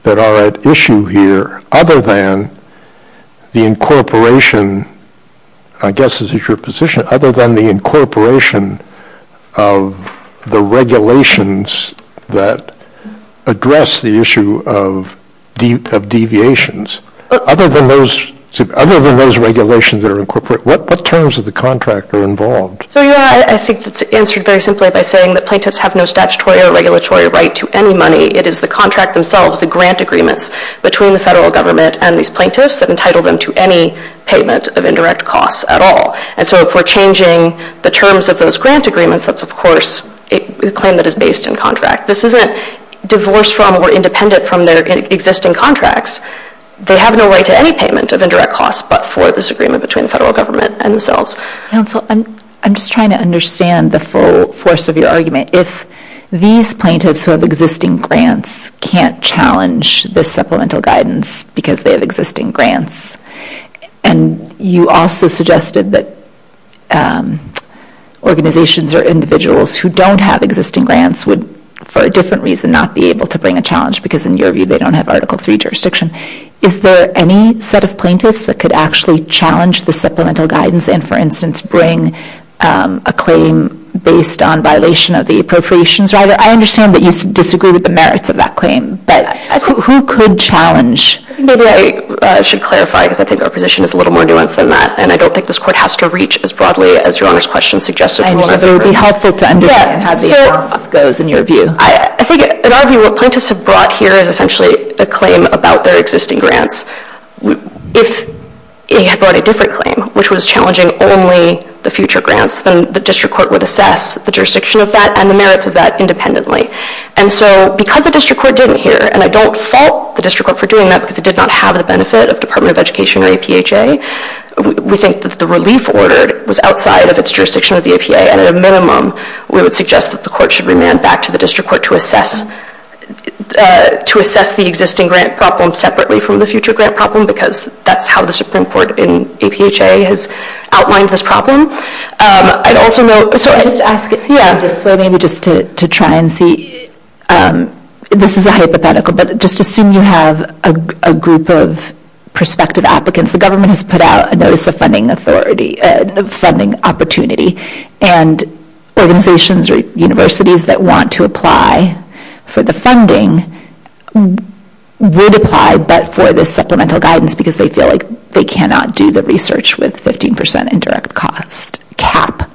that are at issue here, other than the incorporation, I guess is your position, other than the incorporation of the regulations that address the issue of deviations. Other than those regulations that are incorporated, what terms of the contract are involved? I think it's answered very simply by saying that plaintiffs have no statutory or regulatory right to any money. It is the contract themselves, the grant agreements between the federal government and these plaintiffs that entitle them to any payment of indirect costs at all. And so if we're changing the terms of those grant agreements, that's of course a claim that is based in contract. This isn't divorced from or independent from their existing contracts. They have no right to any payment of indirect costs but for this agreement between the federal government and themselves. I'm just trying to understand the full force of your argument. If these plaintiffs who have existing grants can't challenge the supplemental guidance because they have existing grants, and you also suggested that organizations or individuals who don't have existing grants would for a different reason not be able to bring a challenge because in your view they don't have Article III jurisdiction. Is there any set of plaintiffs that could actually challenge the supplemental guidance and for instance bring a claim based on violation of the appropriations? I understand that you disagree with the merits of that claim, but who could challenge? Maybe I should clarify because I think our position is a little more nuanced than that and I don't think this court has to reach as broadly as your Honor's question suggests. I know, but it would be helpful to understand how the forum goes in your view. I think in our view what plaintiffs have brought here is essentially a claim about their existing grants. If they had brought a different claim, which was challenging only the future grants, then the district court would assess the jurisdiction of that and the merits of that independently. And so because the district court didn't hear, and I don't fault the district court for doing that because it did not have the benefit of the Department of Education or APHA, we think that the relief order was outside of its jurisdiction of the APA, and at a minimum we would suggest that the court should remand back to the district court to assess the existing grant problem separately from the future grant problem because that's how the district court in APHA has outlined this problem. I'd also note, just to try and see, this is a hypothetical, but just assume you have a group of prospective applicants. The government has put out a Notice of Funding Opportunity, and organizations or universities that want to apply for the funding would apply, but for the supplemental guidance because they feel like they cannot do the research with 15% indirect cost cap.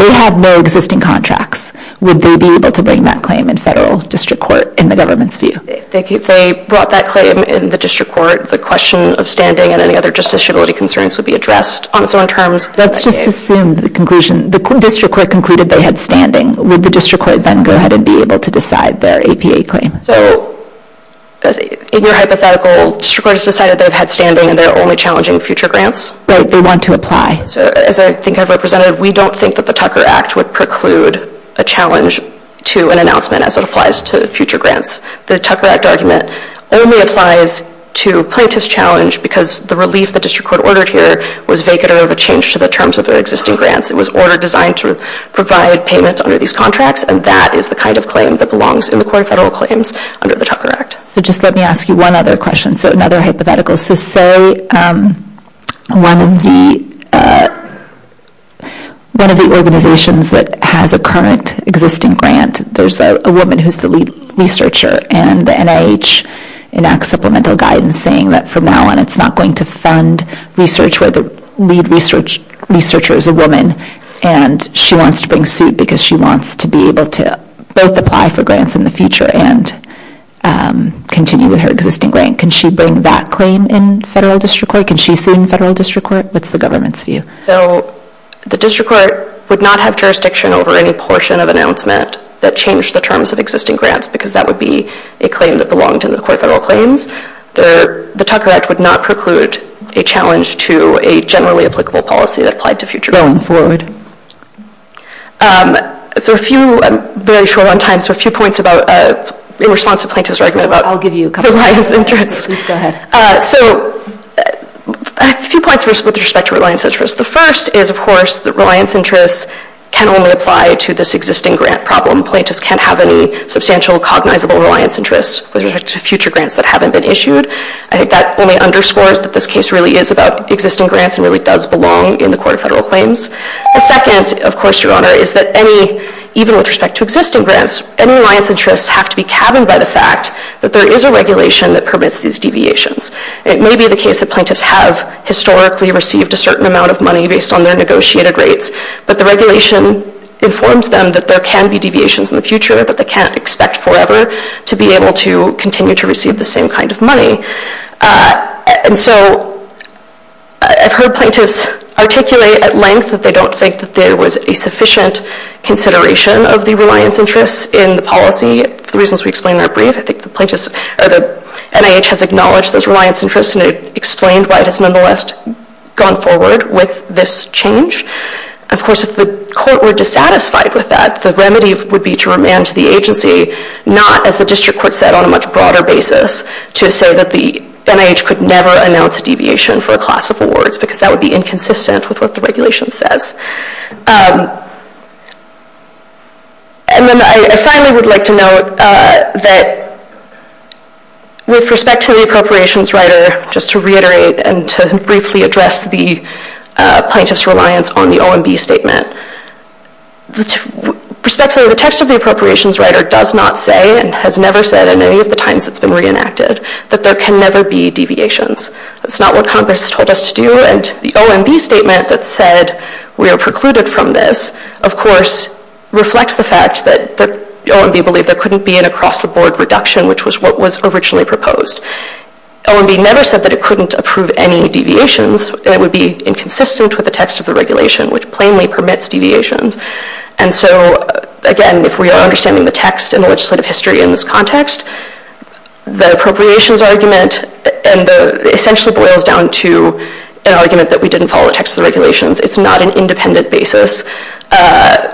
They have no existing contracts. Would they be able to bring that claim in federal district court in the government's view? If they brought that claim in the district court, the question of standing and any other justiciability concerns would be addressed. Let's just assume the conclusion. The district court concluded they had standing. Would the district court then go ahead and be able to decide their APA claim? In your hypothetical, the district court has decided they've had standing and they're only challenging future grants? They want to apply. As I think I've represented, we don't think that the Tucker Act would preclude a challenge to an announcement as it applies to future grants. The Tucker Act argument only applies to plaintiff's challenge because the relief the district court ordered here was vacant or a change to the terms of their existing grants. It was ordered designed to provide payments under these contracts, and that is the kind of claim that belongs in the core federal claims under the Tucker Act. Let me ask you one other question. Another hypothetical is to say one of the organizations that has a current existing grant, there's a woman who's the lead researcher, and the NIH enacts supplemental guidance saying that from now on it's not going to fund research where the lead researcher is a woman, and she wants to bring suit because she wants to be able to both apply for grants in the future and continue with her existing grant. Can she bring that claim in federal district court? Can she sue in federal district court? What's the government's view? The district court would not have jurisdiction over any portion of announcement that changed the terms of existing grants because that would be a claim that belonged to the core federal claims. The Tucker Act would not preclude a challenge to a generally applicable policy that applied to future grants. Go ahead. I'm very short on time, so a few points in response to Plaintiff's argument about reliance interests. Please go ahead. A few points with respect to reliance interests. The first is, of course, that reliance interests can only apply to this existing grant problem. Plaintiffs can't have any substantial cognizable reliance interests with respect to future grants that haven't been issued. I think that only underscores that this case really is about existing grants and really does belong in the core federal claims. The second, of course, Your Honor, is that even with respect to existing grants, any reliance interests have to be cabined by the fact that there is a regulation that permits these deviations. It may be the case that plaintiffs have historically received a certain amount of money based on their negotiated rates, but the regulation informs them that there can be deviations in the future that they can't expect forever to be able to continue to receive the same kind of money. I've heard plaintiffs articulate at length that they don't think that there was a sufficient consideration of the reliance interests in the policy. The reasons we explain are brief. I think the NIH has acknowledged those reliance interests and explained why it has nonetheless gone forward with this change. Of course, if the court were dissatisfied with that, the remedy would be to remand to the agency not, as the district court said on a much broader basis, to say that the NIH could never announce a deviation for a class of awards because that would be inconsistent with what the regulation says. I finally would like to note that with respect to the appropriations writer, just to reiterate and to briefly address the plaintiff's reliance on the OMB statement, with respect to the text of the appropriations writer does not say and has never said in any of the times it's been reenacted that there can never be deviations. That's not what Congress has told us to do. The OMB statement that said we are precluded from this, of course, reflects the fact that OMB believed there couldn't be an across-the-board reduction, which was what was originally proposed. OMB never said that it couldn't approve any deviations. It would be inconsistent with the text of the regulation, which plainly permits deviations. Again, if we are understanding the text in the legislative history in this context, the appropriations argument essentially boils down to an argument that we didn't follow the text of the regulations. It's not an independent basis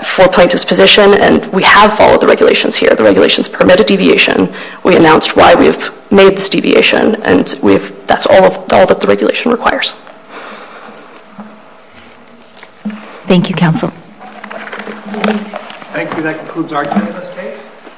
for a plaintiff's position, and we have followed the regulations here. The regulations permit a deviation. We announced why we've made this deviation, and that's all that the regulation requires. Thank you, Counsel. Thank you. That concludes our Q&A.